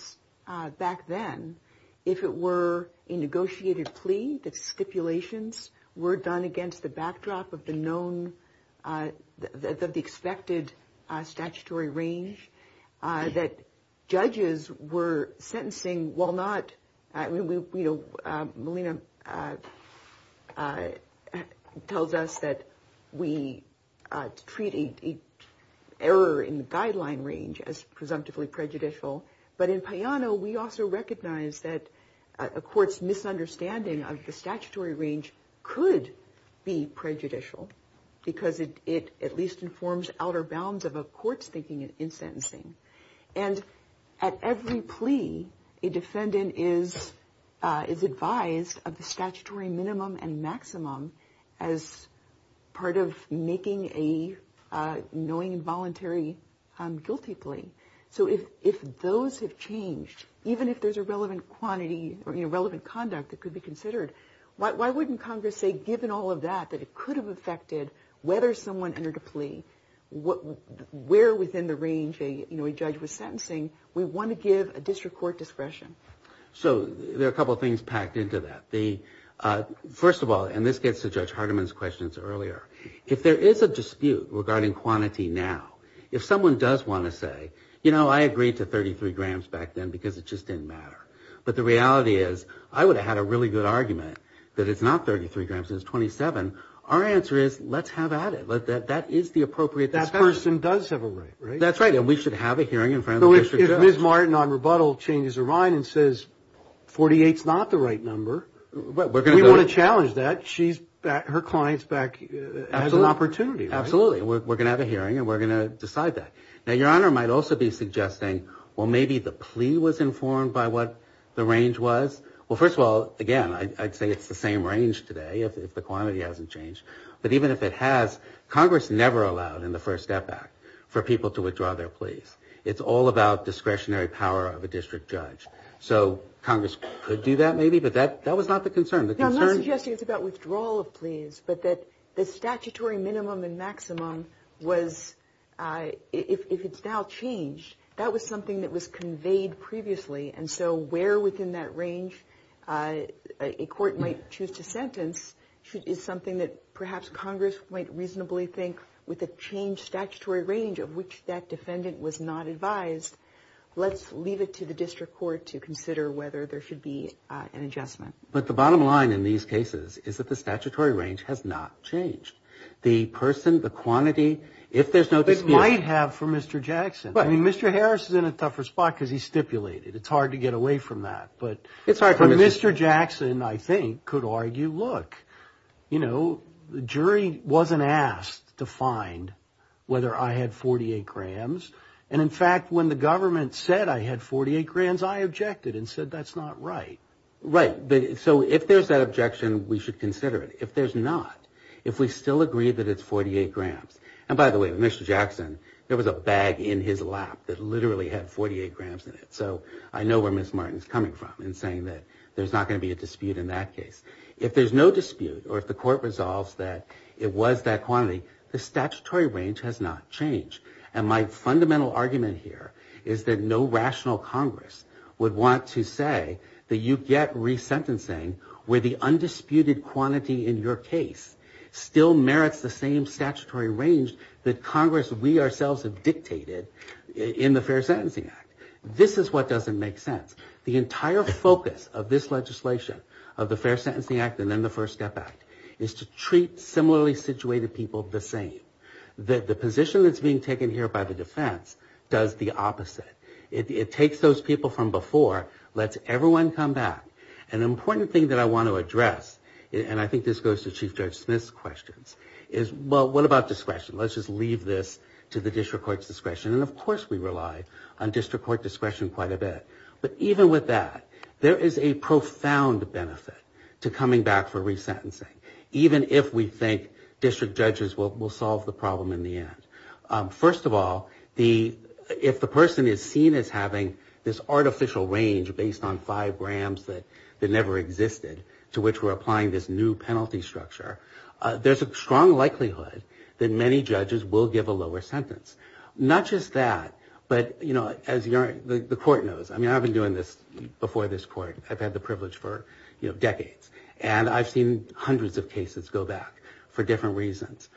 back then, if it were a negotiated plea, that stipulations were done against the backdrop of the expected statutory range, that judges were sentencing while not – Melina tells us that we treat an error in the guideline range as presumptively prejudicial, but in Payano, we also recognize that a court's misunderstanding of the statutory range could be prejudicial because it at least informs outer bounds of a court's thinking in sentencing. And at every plea, a defendant is advised of the statutory minimum and maximum as part of making a knowing and voluntary guilty plea. So if those have changed, even if there's a relevant conduct that could be considered, why wouldn't Congress say, given all of that, that it could have affected whether someone entered a plea, where within the range a judge was sentencing, we want to give a district court discretion? So there are a couple of things packed into that. First of all, and this gets to Judge Hardiman's questions earlier, if there is a dispute regarding quantity now, if someone does want to say, you know, I agreed to 33 grams back then because it just didn't matter, but the reality is I would have had a really good argument that it's not 33 grams, it's 27, our answer is let's have at it. That is the appropriate – That person does have a right, right? That's right, and we should have a hearing in front of the district court. If Ms. Martin on rebuttal changes her mind and says 48's not the right number, we want to challenge that. Her client's back as an opportunity. Absolutely. We're going to have a hearing and we're going to decide that. Now, Your Honor might also be suggesting, well, maybe the plea was informed by what the range was. Well, first of all, again, I'd say it's the same range today if the quantity hasn't changed, but even if it has, Congress never allowed in the First Step Act for people to withdraw their pleas. It's all about discretionary power of a district judge. So Congress could do that maybe, but that was not the concern. No, I'm not suggesting it's about withdrawal of pleas, but that the statutory minimum and maximum was if it's now changed, that was something that was conveyed previously, and so where within that range a court might choose to sentence is something that perhaps Congress might reasonably think with a changed statutory range of which that defendant was not advised, let's leave it to the district court to consider whether there should be an adjustment. But the bottom line in these cases is that the statutory range has not changed. The person, the quantity, if there's no dispute... It might have for Mr. Jackson. I mean, Mr. Harris is in a tougher spot because he stipulated. It's hard to get away from that, but Mr. Jackson, I think, could argue, look, you know, the jury wasn't asked to find whether I had 48 grams, and in fact when the government said I had 48 grams, I objected and said that's not right. Right, so if there's that objection, we should consider it. If there's not, if we still agree that it's 48 grams, and by the way, Mr. Jackson, there was a bag in his lap that literally had 48 grams in it, so I know where Ms. Martin is coming from in saying that there's not going to be a dispute in that case. If there's no dispute or if the court resolves that it was that quantity, the statutory range has not changed, and my fundamental argument here is that no rational Congress would want to say that you get resentencing where the undisputed quantity in your case still merits the same statutory range that Congress, we ourselves, have dictated in the Fair Sentencing Act. This is what doesn't make sense. The entire focus of this legislation, of the Fair Sentencing Act and then the First Step Act, is to treat similarly situated people the same. The position that's being taken here by the defense does the opposite. It takes those people from before, lets everyone come back. An important thing that I want to address, and I think this goes to Chief Judge Smith's questions, is well, what about discretion? Let's just leave this to the district court's discretion, and of course we rely on district court discretion quite a bit, but even with that, there is a profound benefit to coming back for resentencing, even if we think district judges will solve the problem in the end. First of all, if the person is seen as having this artificial range based on five grams that never existed, to which we're applying this new penalty structure, there's a strong likelihood that many judges will give a lower sentence. Not just that, but as the court knows, I mean I've been doing this before this court, I've had the privilege for decades, and I've seen hundreds of cases go back for different reasons.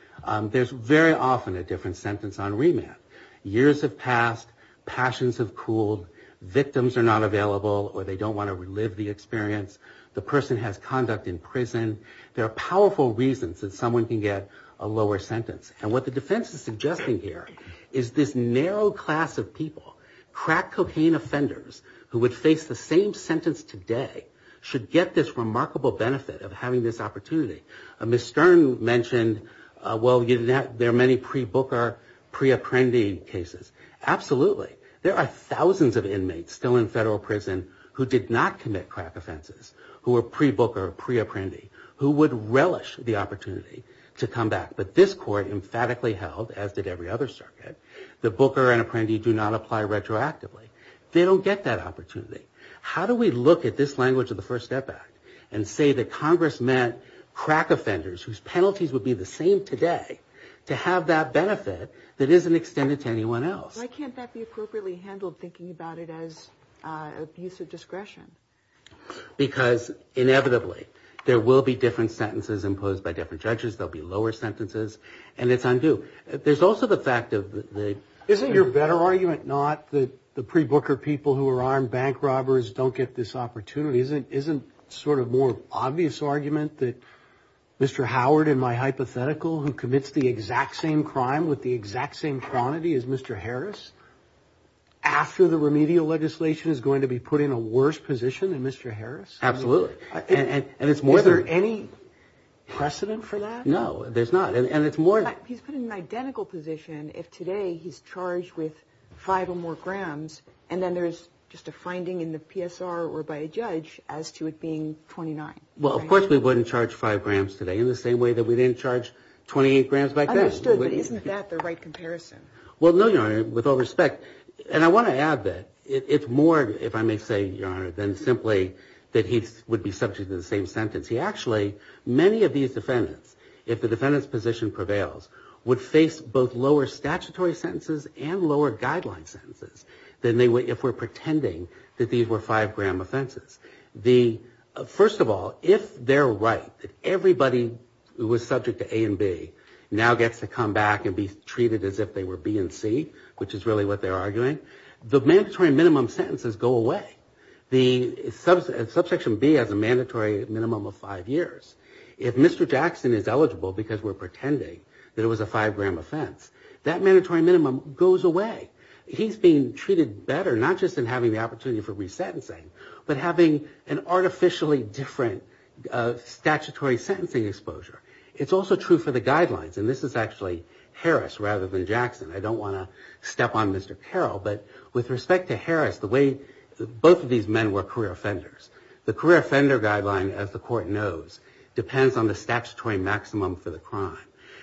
There's very often a different sentence on remand. Years have passed, passions have cooled, victims are not available, or they don't want to relive the experience, the person has conduct in prison. There are powerful reasons that someone can get a lower sentence, and what the defense is suggesting here is this narrow class of people, crack cocaine offenders who would face the same sentence today should get this remarkable benefit of having this opportunity. Ms. Stern mentioned, well, there are many pre-Booker, pre-apprendee cases. Absolutely. There are thousands of inmates still in federal prison who did not commit crack offenses, who were pre-Booker, pre-apprendee, who would relish the opportunity to come back, but this court emphatically held, as did every other circuit, that Booker and apprendee do not apply retroactively. They don't get that opportunity. How do we look at this language of the First Step Act and say that Congress meant crack offenders, whose penalties would be the same today, to have that benefit that isn't extended to anyone else? Why can't that be appropriately handled, thinking about it as abuse of discretion? Because, inevitably, there will be different sentences imposed by different judges, there will be lower sentences, and it's undue. There's also the fact of the— Isn't your better argument not that the pre-Booker people who are armed bank robbers don't get this opportunity? Isn't it sort of a more obvious argument that Mr. Howard, in my hypothetical, who commits the exact same crime with the exact same cronyty as Mr. Harris, after the remedial legislation, is going to be put in a worse position than Mr. Harris? Absolutely. Is there any precedent for that? No, there's not. He's put in an identical position if today he's charged with five or more grams, and then there's just a finding in the PSR or by a judge as to it being 29. Well, of course we wouldn't charge five grams today, in the same way that we didn't charge 28 grams back then. I understood, but isn't that the right comparison? Well, no, Your Honor, with all respect. And I want to add that it's more, if I may say, Your Honor, than simply that he would be subject to the same sentence. Actually, many of these defendants, if the defendant's position prevails, would face both lower statutory sentences and lower guideline sentences if we're pretending that these were five-gram offenses. First of all, if they're right, if everybody who was subject to A and B now gets to come back and be treated as if they were B and C, which is really what they're arguing, the mandatory minimum sentences go away. Subsection B has a mandatory minimum of five years. If Mr. Jackson is eligible because we're pretending that it was a five-gram offense, that mandatory minimum goes away. He's being treated better, not just in having the opportunity for resentencing, but having an artificially different statutory sentencing exposure. It's also true for the guidelines, and this is actually Harris rather than Jackson. I don't want to step on Mr. Carroll, but with respect to Harris, both of these men were career offenders. The career offender guideline, as the court knows, depends on the statutory maximum for the crime,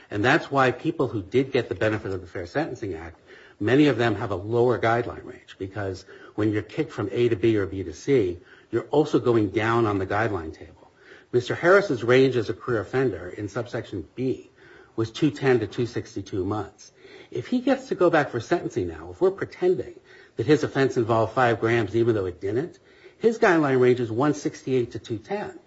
and that's why people who did get the benefit of the Fair Sentencing Act, many of them have a lower guideline range because when you're kicked from A to B or B to C, you're also going down on the guideline table. Mr. Harris's range as a career offender in subsection B was 210 to 262 months. If he gets to go back for sentencing now, before pretending that his offense involved five grams even though it didn't, his guideline range is 168 to 210.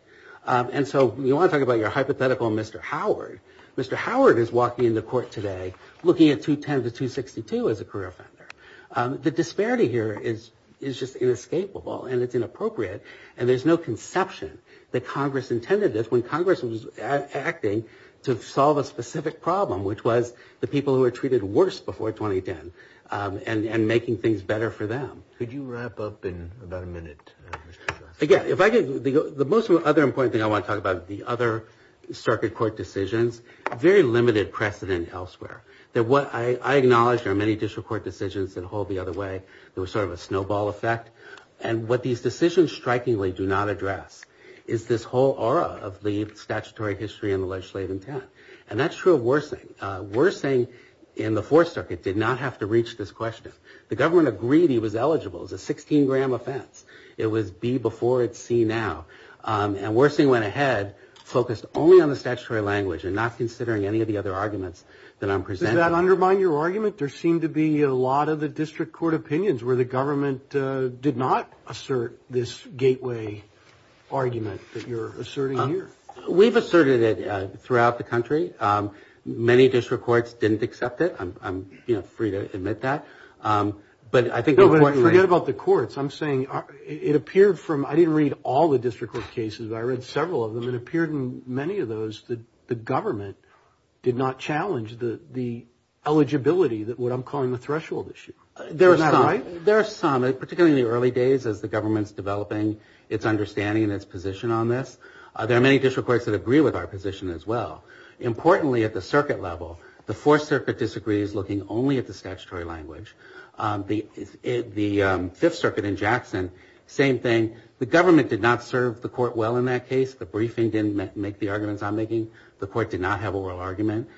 And so you want to talk about your hypothetical Mr. Howard. Mr. Howard has walked into court today looking at 210 to 262 as a career offender. The disparity here is just inescapable, and it's inappropriate, and there's no conception that Congress intended this when Congress was acting to solve a specific problem, which was the people who were treated worse before 2010, and making things better for them. Could you wrap up in about a minute? Again, the most other important thing I want to talk about is the other circuit court decisions. Very limited precedent elsewhere. I acknowledge there are many district court decisions that hold the other way. There was sort of a snowball effect, and what these decisions strikingly do not address is this whole aura of the statutory history and the legislative intent, and that's true of Worsing. Worsing in the Fourth Circuit did not have to reach this question. The government agreed he was eligible. It was a 16-gram offense. It was B before it's C now, and Worsing went ahead focused only on the statutory language and not considering any of the other arguments that I'm presenting. Did that undermine your argument? There seem to be a lot of the district court opinions where the government did not assert this gateway argument that you're asserting here. We've asserted it throughout the country. Many district courts didn't accept it. I'm free to admit that, but I think... Forget about the courts. I'm saying it appeared from... I didn't read all the district court cases, but I read several of them. It appeared in many of those that the government did not challenge the eligibility, what I'm calling the threshold issue. There are some, particularly in the early days as the government's developing its understanding and its position on this. There are many district courts that agree with our position as well. Importantly, at the circuit level, the Fourth Circuit disagrees looking only at the statutory language. The Fifth Circuit in Jackson, same thing. The government did not serve the court well in that case. The briefing didn't make the arguments I'm making. The court did not have a real argument.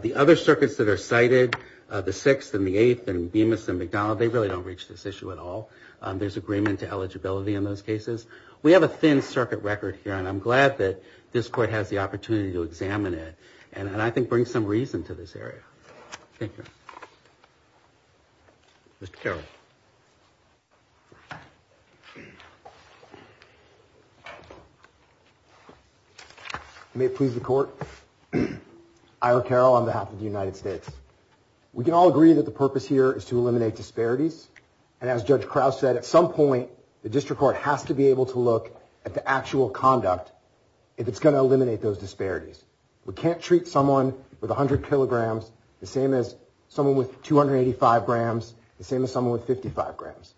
The other circuits that are cited, the Sixth and the Eighth and Bemis and McDonnell, they really don't reach this issue at all. There's agreement to eligibility in those cases. We have a thin circuit record here, and I'm glad that this court has the opportunity to examine it and I think bring some reason to this area. Thank you. Mr. Carroll. May it please the court, Ira Carroll on behalf of the United States. We can all agree that the purpose here is to eliminate disparities, and as Judge Crouch said, at some point, the district court has to be able to look at the actual conduct if it's going to eliminate those disparities. We can't treat someone with 100 kilograms the same as someone with 285 grams, the same as someone with 55 grams.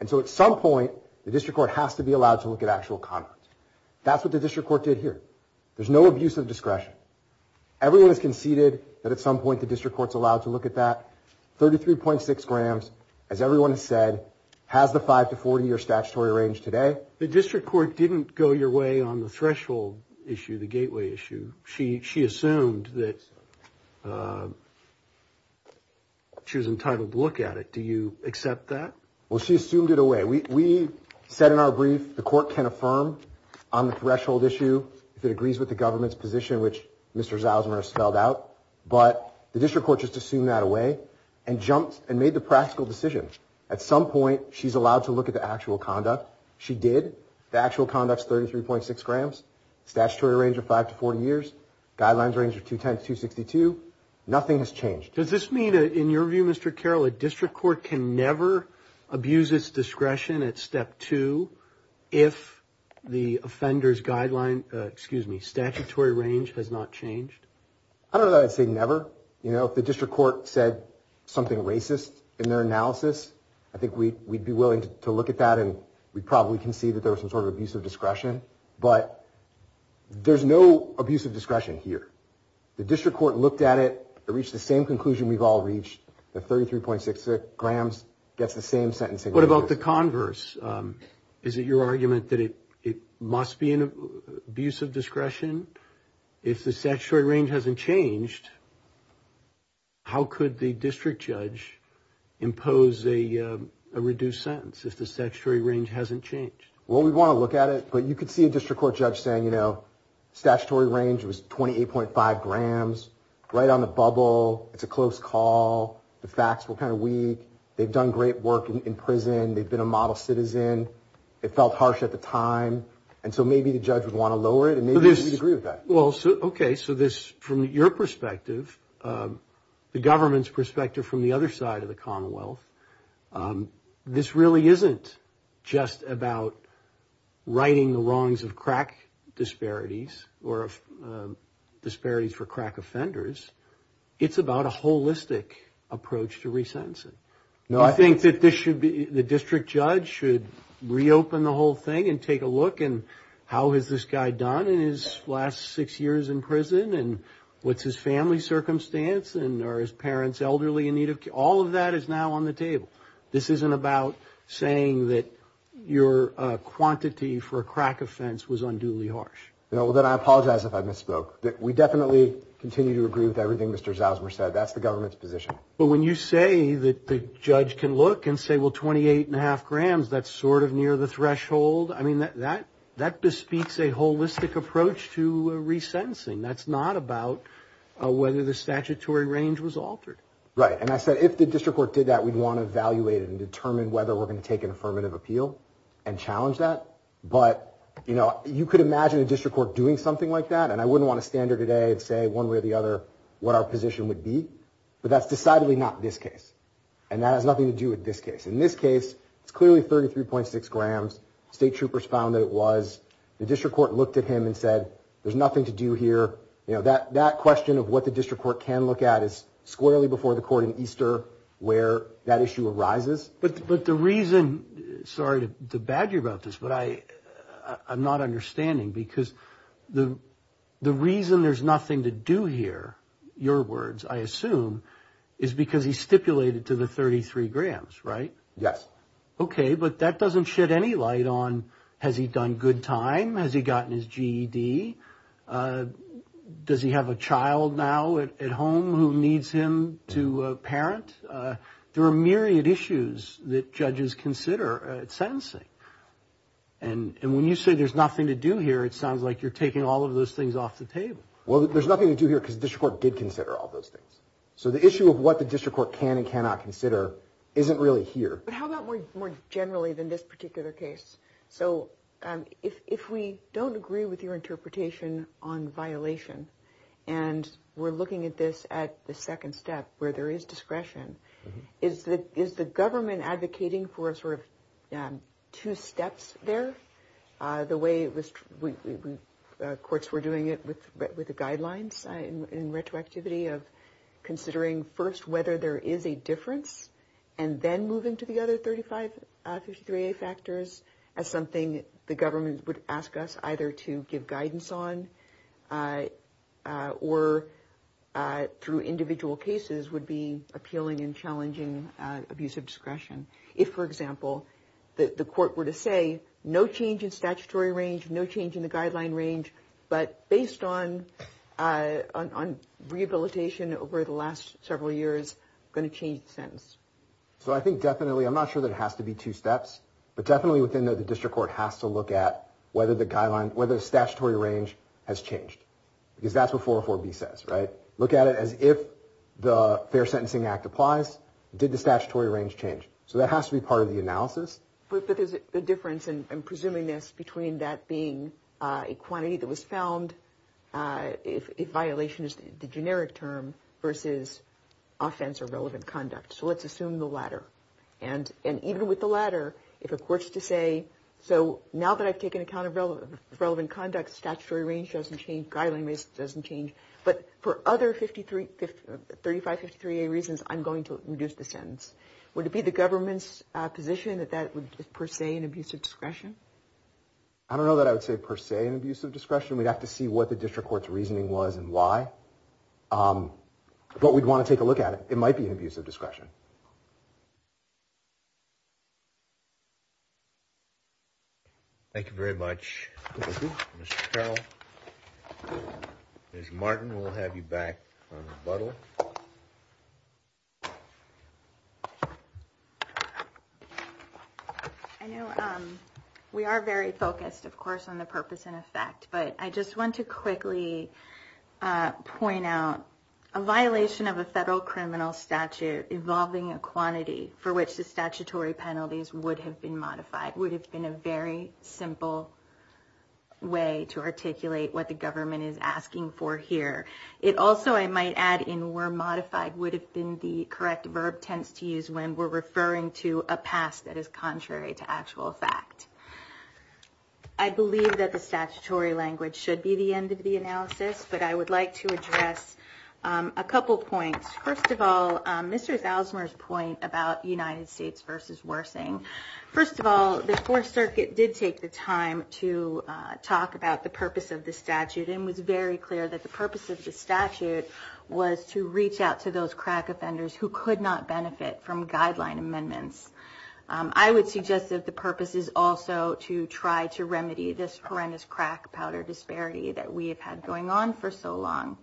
And so at some point, the district court has to be allowed to look at actual conduct. That's what the district court did here. There's no abuse of discretion. Everyone has conceded that at some point the district court's allowed to look at that. 33.6 grams, as everyone said, has the 5-40 year statutory range today. The district court didn't go your way on the threshold issue, the gateway issue. She assumed that she was entitled to look at it. Do you accept that? Well, she assumed it away. We said in our brief the court can affirm on the threshold issue if it agrees with the government's position, which Mr. Zausman has spelled out, but the district court just assumed that away and jumped and made the practical decision. At some point, she's allowed to look at the actual conduct. She did. The actual conduct's 33.6 grams. Statutory range of 5-40 years. Guidelines range of 2 times 262. Nothing has changed. Does this mean, in your view, Mr. Carroll, a district court can never abuse its discretion at step two if the offender's guideline, excuse me, statutory range has not changed? I don't know that I'd say never. You know, if the district court said something racist in their analysis, I think we'd be willing to look at that and we probably can see that there was some sort of abuse of discretion. But there's no abuse of discretion here. The district court looked at it and reached the same conclusion we've all reached, that 33.6 grams gets the same sentencing. What about the converse? Is it your argument that it must be an abuse of discretion if the statutory range hasn't changed? How could the district judge impose a reduced sentence if the statutory range hasn't changed? Well, we'd want to look at it, but you could see a district court judge saying, you know, statutory range was 28.5 grams, right on the bubble. It's a close call. The facts were kind of weak. They've done great work in prison. They've been a model citizen. It felt harsh at the time. And so maybe the judge would want to lower it, and maybe you'd agree with that. Well, okay, so from your perspective, the government's perspective from the other side of the commonwealth, this really isn't just about righting the wrongs of crack disparities or disparities for crack offenders. It's about a holistic approach to resentencing. I think the district judge should reopen the whole thing and take a look at how has this guy done in his last six years in prison and what's his family circumstance and are his parents elderly in need of care. All of that is now on the table. This isn't about saying that your quantity for a crack offense was unduly harsh. Well, then I apologize if I misspoke. We definitely continue to agree with everything Mr. Zausmer said. That's the government's position. But when you say that the judge can look and say, well, 28.5 grams, that's sort of near the threshold. I mean, that bespeaks a holistic approach to resentencing. That's not about whether the statutory range was altered. Right, and I said if the district court did that, we'd want to evaluate and determine whether we're going to take an affirmative appeal and challenge that. But, you know, you could imagine a district court doing something like that, and I wouldn't want to stand here today and say one way or the other what our position would be. But that's decidedly not this case, and that has nothing to do with this case. In this case, it's clearly 33.6 grams. State troopers found that it was. The district court looked at him and said there's nothing to do here. You know, that question of what the district court can look at is squarely before the court in Easter where that issue arises. But the reason, sorry to badger you about this, but I'm not understanding, because the reason there's nothing to do here, your words I assume, is because he stipulated to the 33 grams, right? Yes. Okay, but that doesn't shed any light on has he done good time? Has he gotten his GED? Does he have a child now at home who needs him to parent? There are myriad issues that judges consider at sentencing. And when you say there's nothing to do here, it sounds like you're taking all of those things off the table. Well, there's nothing to do here because the district court did consider all those things. So the issue of what the district court can and cannot consider isn't really here. But how about more generally than this particular case? So if we don't agree with your interpretation on violation, and we're looking at this at the second step where there is discretion, is the government advocating for sort of two steps there, the way courts were doing it with the guidelines in retroactivity of considering first whether there is a difference and then moving to the other 35-63A factors as something the government would ask us either to give guidance on or through individual cases would be appealing and challenging abuse of discretion. If, for example, the court were to say no change in statutory range, no change in the guideline range, but based on rehabilitation over the last several years, going to change the sentence. So I think definitely, I'm not sure that it has to be two steps, but definitely within the district court has to look at whether the statutory range has changed. Because that's what 404B says, right? Look at it as if the Fair Sentencing Act applies, did the statutory range change? So that has to be part of the analysis. But there's a difference in presuming this between that being a quantity that was found, if violation is the generic term, versus offense or relevant conduct. So let's assume the latter. And even with the latter, if a court's to say, so now that I've taken account of relevant conduct, statutory range doesn't change, guideline range doesn't change. But for other 3553A reasons, I'm going to reduce the sentence. Would it be the government's position that that was per se an abuse of discretion? I don't know that I would say per se an abuse of discretion. We'd have to see what the district court's reasoning was and why. But we'd want to take a look at it. It might be an abuse of discretion. Thank you very much. Mr. Carroll, Ms. Martin, we'll have you back on rebuttal. I know we are very focused, of course, on the purpose and effect. But I just want to quickly point out a violation of a federal criminal statute involving a quantity for which the statutory penalties would have been modified and that would have been a very simple way to articulate what the government is asking for here. It also, I might add, in were modified would have been the correct verb tense to use when we're referring to a past that is contrary to actual fact. I believe that the statutory language should be the end of the analysis, but I would like to address a couple points. First of all, Mr. Zalzmer's point about United States versus Worthing. First of all, the Fourth Circuit did take the time to talk about the purpose of the statute and was very clear that the purpose of the statute was to reach out to those crack offenders who could not benefit from guideline amendments. I would suggest that the purpose is also to try to remedy this horrendous crack powder disparity that we have had going on for so long.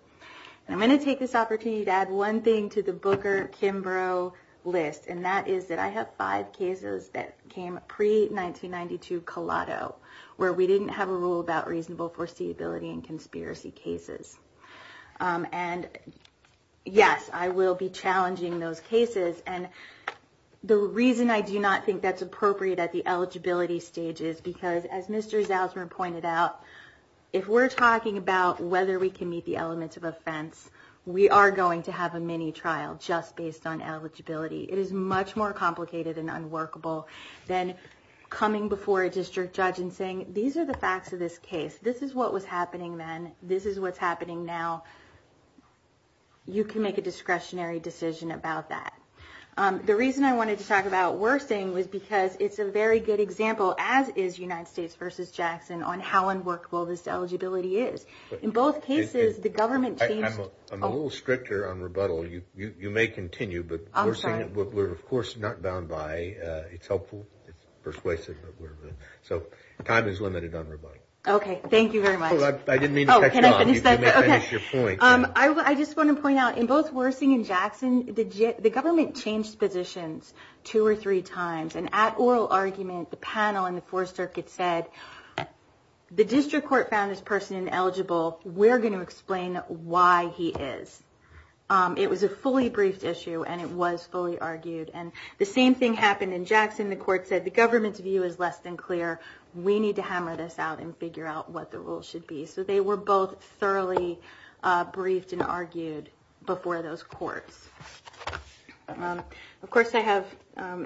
I'm going to take this opportunity to add one thing to the Booker-Kimbrough list, and that is that I have five cases that came pre-1992 collateral where we didn't have a rule about reasonable foreseeability in conspiracy cases. And, yes, I will be challenging those cases, and the reason I do not think that's appropriate at the eligibility stage is because, as Mr. Zalzmer pointed out, if we're talking about whether we can meet the elements of offense, we are going to have a mini-trial just based on eligibility. It is much more complicated and unworkable than coming before a district judge and saying, these are the facts of this case. This is what was happening then. This is what's happening now. You can make a discretionary decision about that. The reason I wanted to talk about Worthing was because it's a very good example, as is United States versus Jackson, on how unworkable this eligibility is. In both cases, the government changed... I'm a little stricter on rebuttal. You may continue, but Worthing, we're, of course, not bound by. It's helpful, persuasive. So time is limited on rebuttal. Okay, thank you very much. I didn't mean to cut you off. I just want to point out, in both Worthing and Jackson, the government changed positions two or three times, and at oral argument, the panel in the Fourth Circuit said, the district court found this person ineligible. We're going to explain why he is. It was a fully briefed issue, and it was fully argued. And the same thing happened in Jackson. The court said, the government's view is less than clear. We need to hammer this out and figure out what the rules should be. So they were both thoroughly briefed and argued before those courts. Of course, I have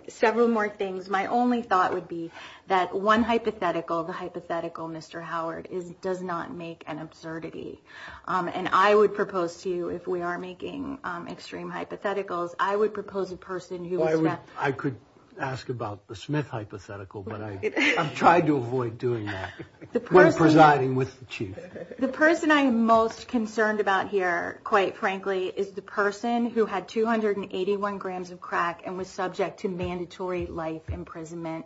several more things. My only thought would be that one hypothetical, the hypothetical Mr. Howard, does not make an absurdity. And I would propose to you, if we are making extreme hypotheticals, I would propose a person who is not. I could ask about the Smith hypothetical, but I've tried to avoid doing that when presiding with the Chief. The person I'm most concerned about here, quite frankly, is the person who had 281 grams of crack and was subject to mandatory life imprisonment,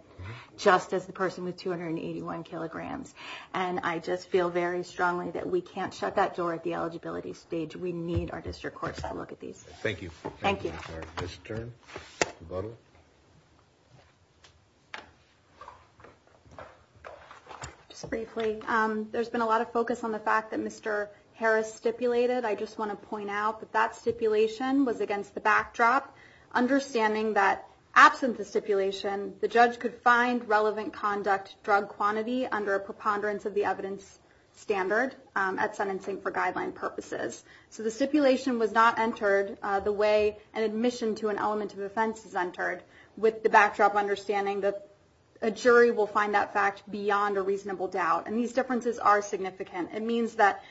just as the person with 281 kilograms. And I just feel very strongly that we can't shut that door at the eligibility stage. We need our district courts to look at these. Thank you. Thank you. Ms. Stern. Briefly, there's been a lot of focus on the fact that Mr. Harris stipulated. I just want to point out that that stipulation was against the backdrop, understanding that absence of stipulation, the judge could find relevant conduct drug quantity under a preponderance of the evidence standard at sentencing for guideline purposes. So the stipulation was not entered the way an admission to an element of offense is entered, with the backdrop understanding that a jury will find that fact beyond a reasonable doubt. And these differences are significant. It means that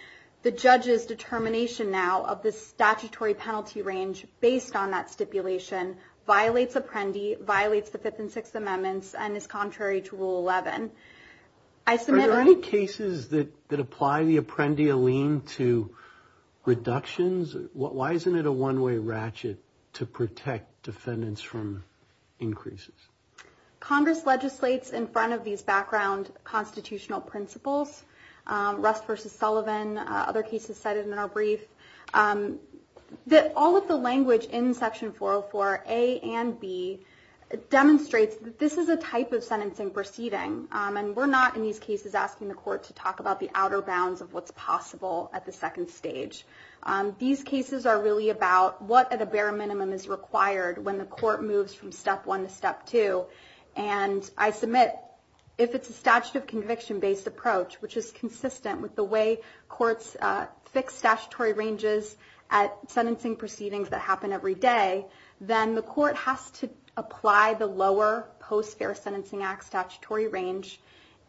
the judge's determination now of the statutory penalty range based on that stipulation violates Apprendi, violates the Fifth and Sixth Amendments, and is contrary to Rule 11. Are there any cases that apply the Apprendi Allene to reductions? Why isn't it a one-way ratchet to protect defendants from increases? Congress legislates in front of these background constitutional principles, Russ v. Sullivan, other cases cited in our brief, that all of the language in Section 404A and B demonstrates that this is a type of sentencing proceeding, and we're not in these cases asking the court to talk about the outer bounds of what's possible at the second stage. These cases are really about what at a bare minimum is required when the court moves from Step 1 to Step 2, and I submit if it's a statute of conviction-based approach, which is consistent with the way courts fix statutory ranges at sentencing proceedings that happen every day, then the court has to apply the lower Post-Fair Sentencing Act statutory range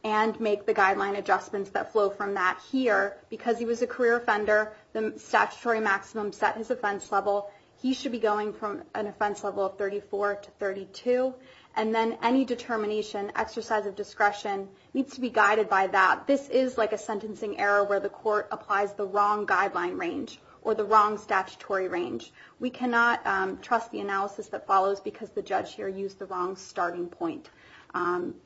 and make the guideline adjustments that flow from that here. Because he was a career offender, the statutory maximum set his offense level. He should be going from an offense level of 34 to 32. And then any determination, exercise of discretion, needs to be guided by that. This is like a sentencing error where the court applies the wrong guideline range or the wrong statutory range. We cannot trust the analysis that follows because the judge here used the wrong starting point.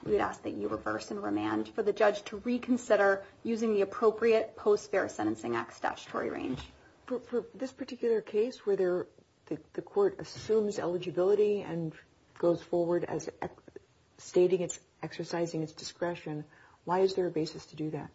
We'd ask that you reverse and remand for the judge to reconsider using the appropriate Post-Fair Sentencing Act statutory range. For this particular case where the court assumes eligibility and goes forward as stating it's exercising its discretion, why is there a basis to do that?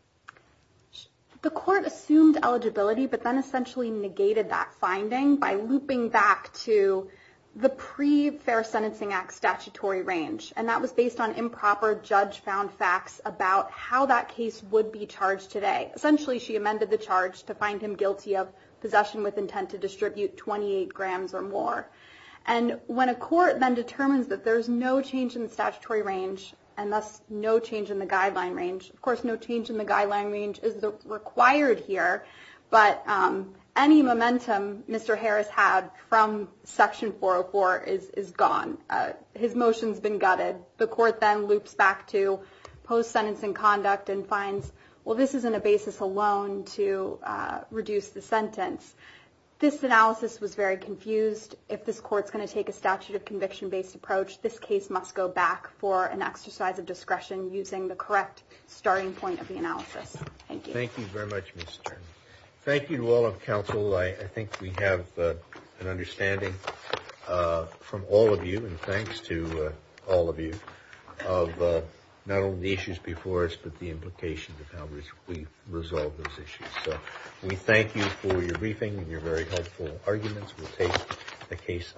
The court assumed eligibility but then essentially negated that finding by looping back to the pre-Fair Sentencing Act statutory range. And that was based on improper judge-found facts about how that case would be charged today. Essentially, she amended the charge to find him guilty of possession with intent to distribute 28 grams or more. When a court then determines that there's no change in the statutory range and thus no change in the guideline range, of course no change in the guideline range is required here, but any momentum Mr. Harris had from Section 404 is gone. His motion's been gutted. The court then loops back to post-sentencing conduct and finds, well, this isn't a basis alone to reduce the sentence. This analysis was very confused. If this court's going to take a statute of conviction-based approach, this case must go back for an exercise of discretion using the correct starting point of the analysis. Thank you. Thank you very much, Ms. Stern. Thank you to all of counsel. I think we have an understanding from all of you, and thanks to all of you, of not only the issues before us but the implications of how we resolve those issues. So we thank you for your briefing and your very helpful arguments. We'll take the case under review.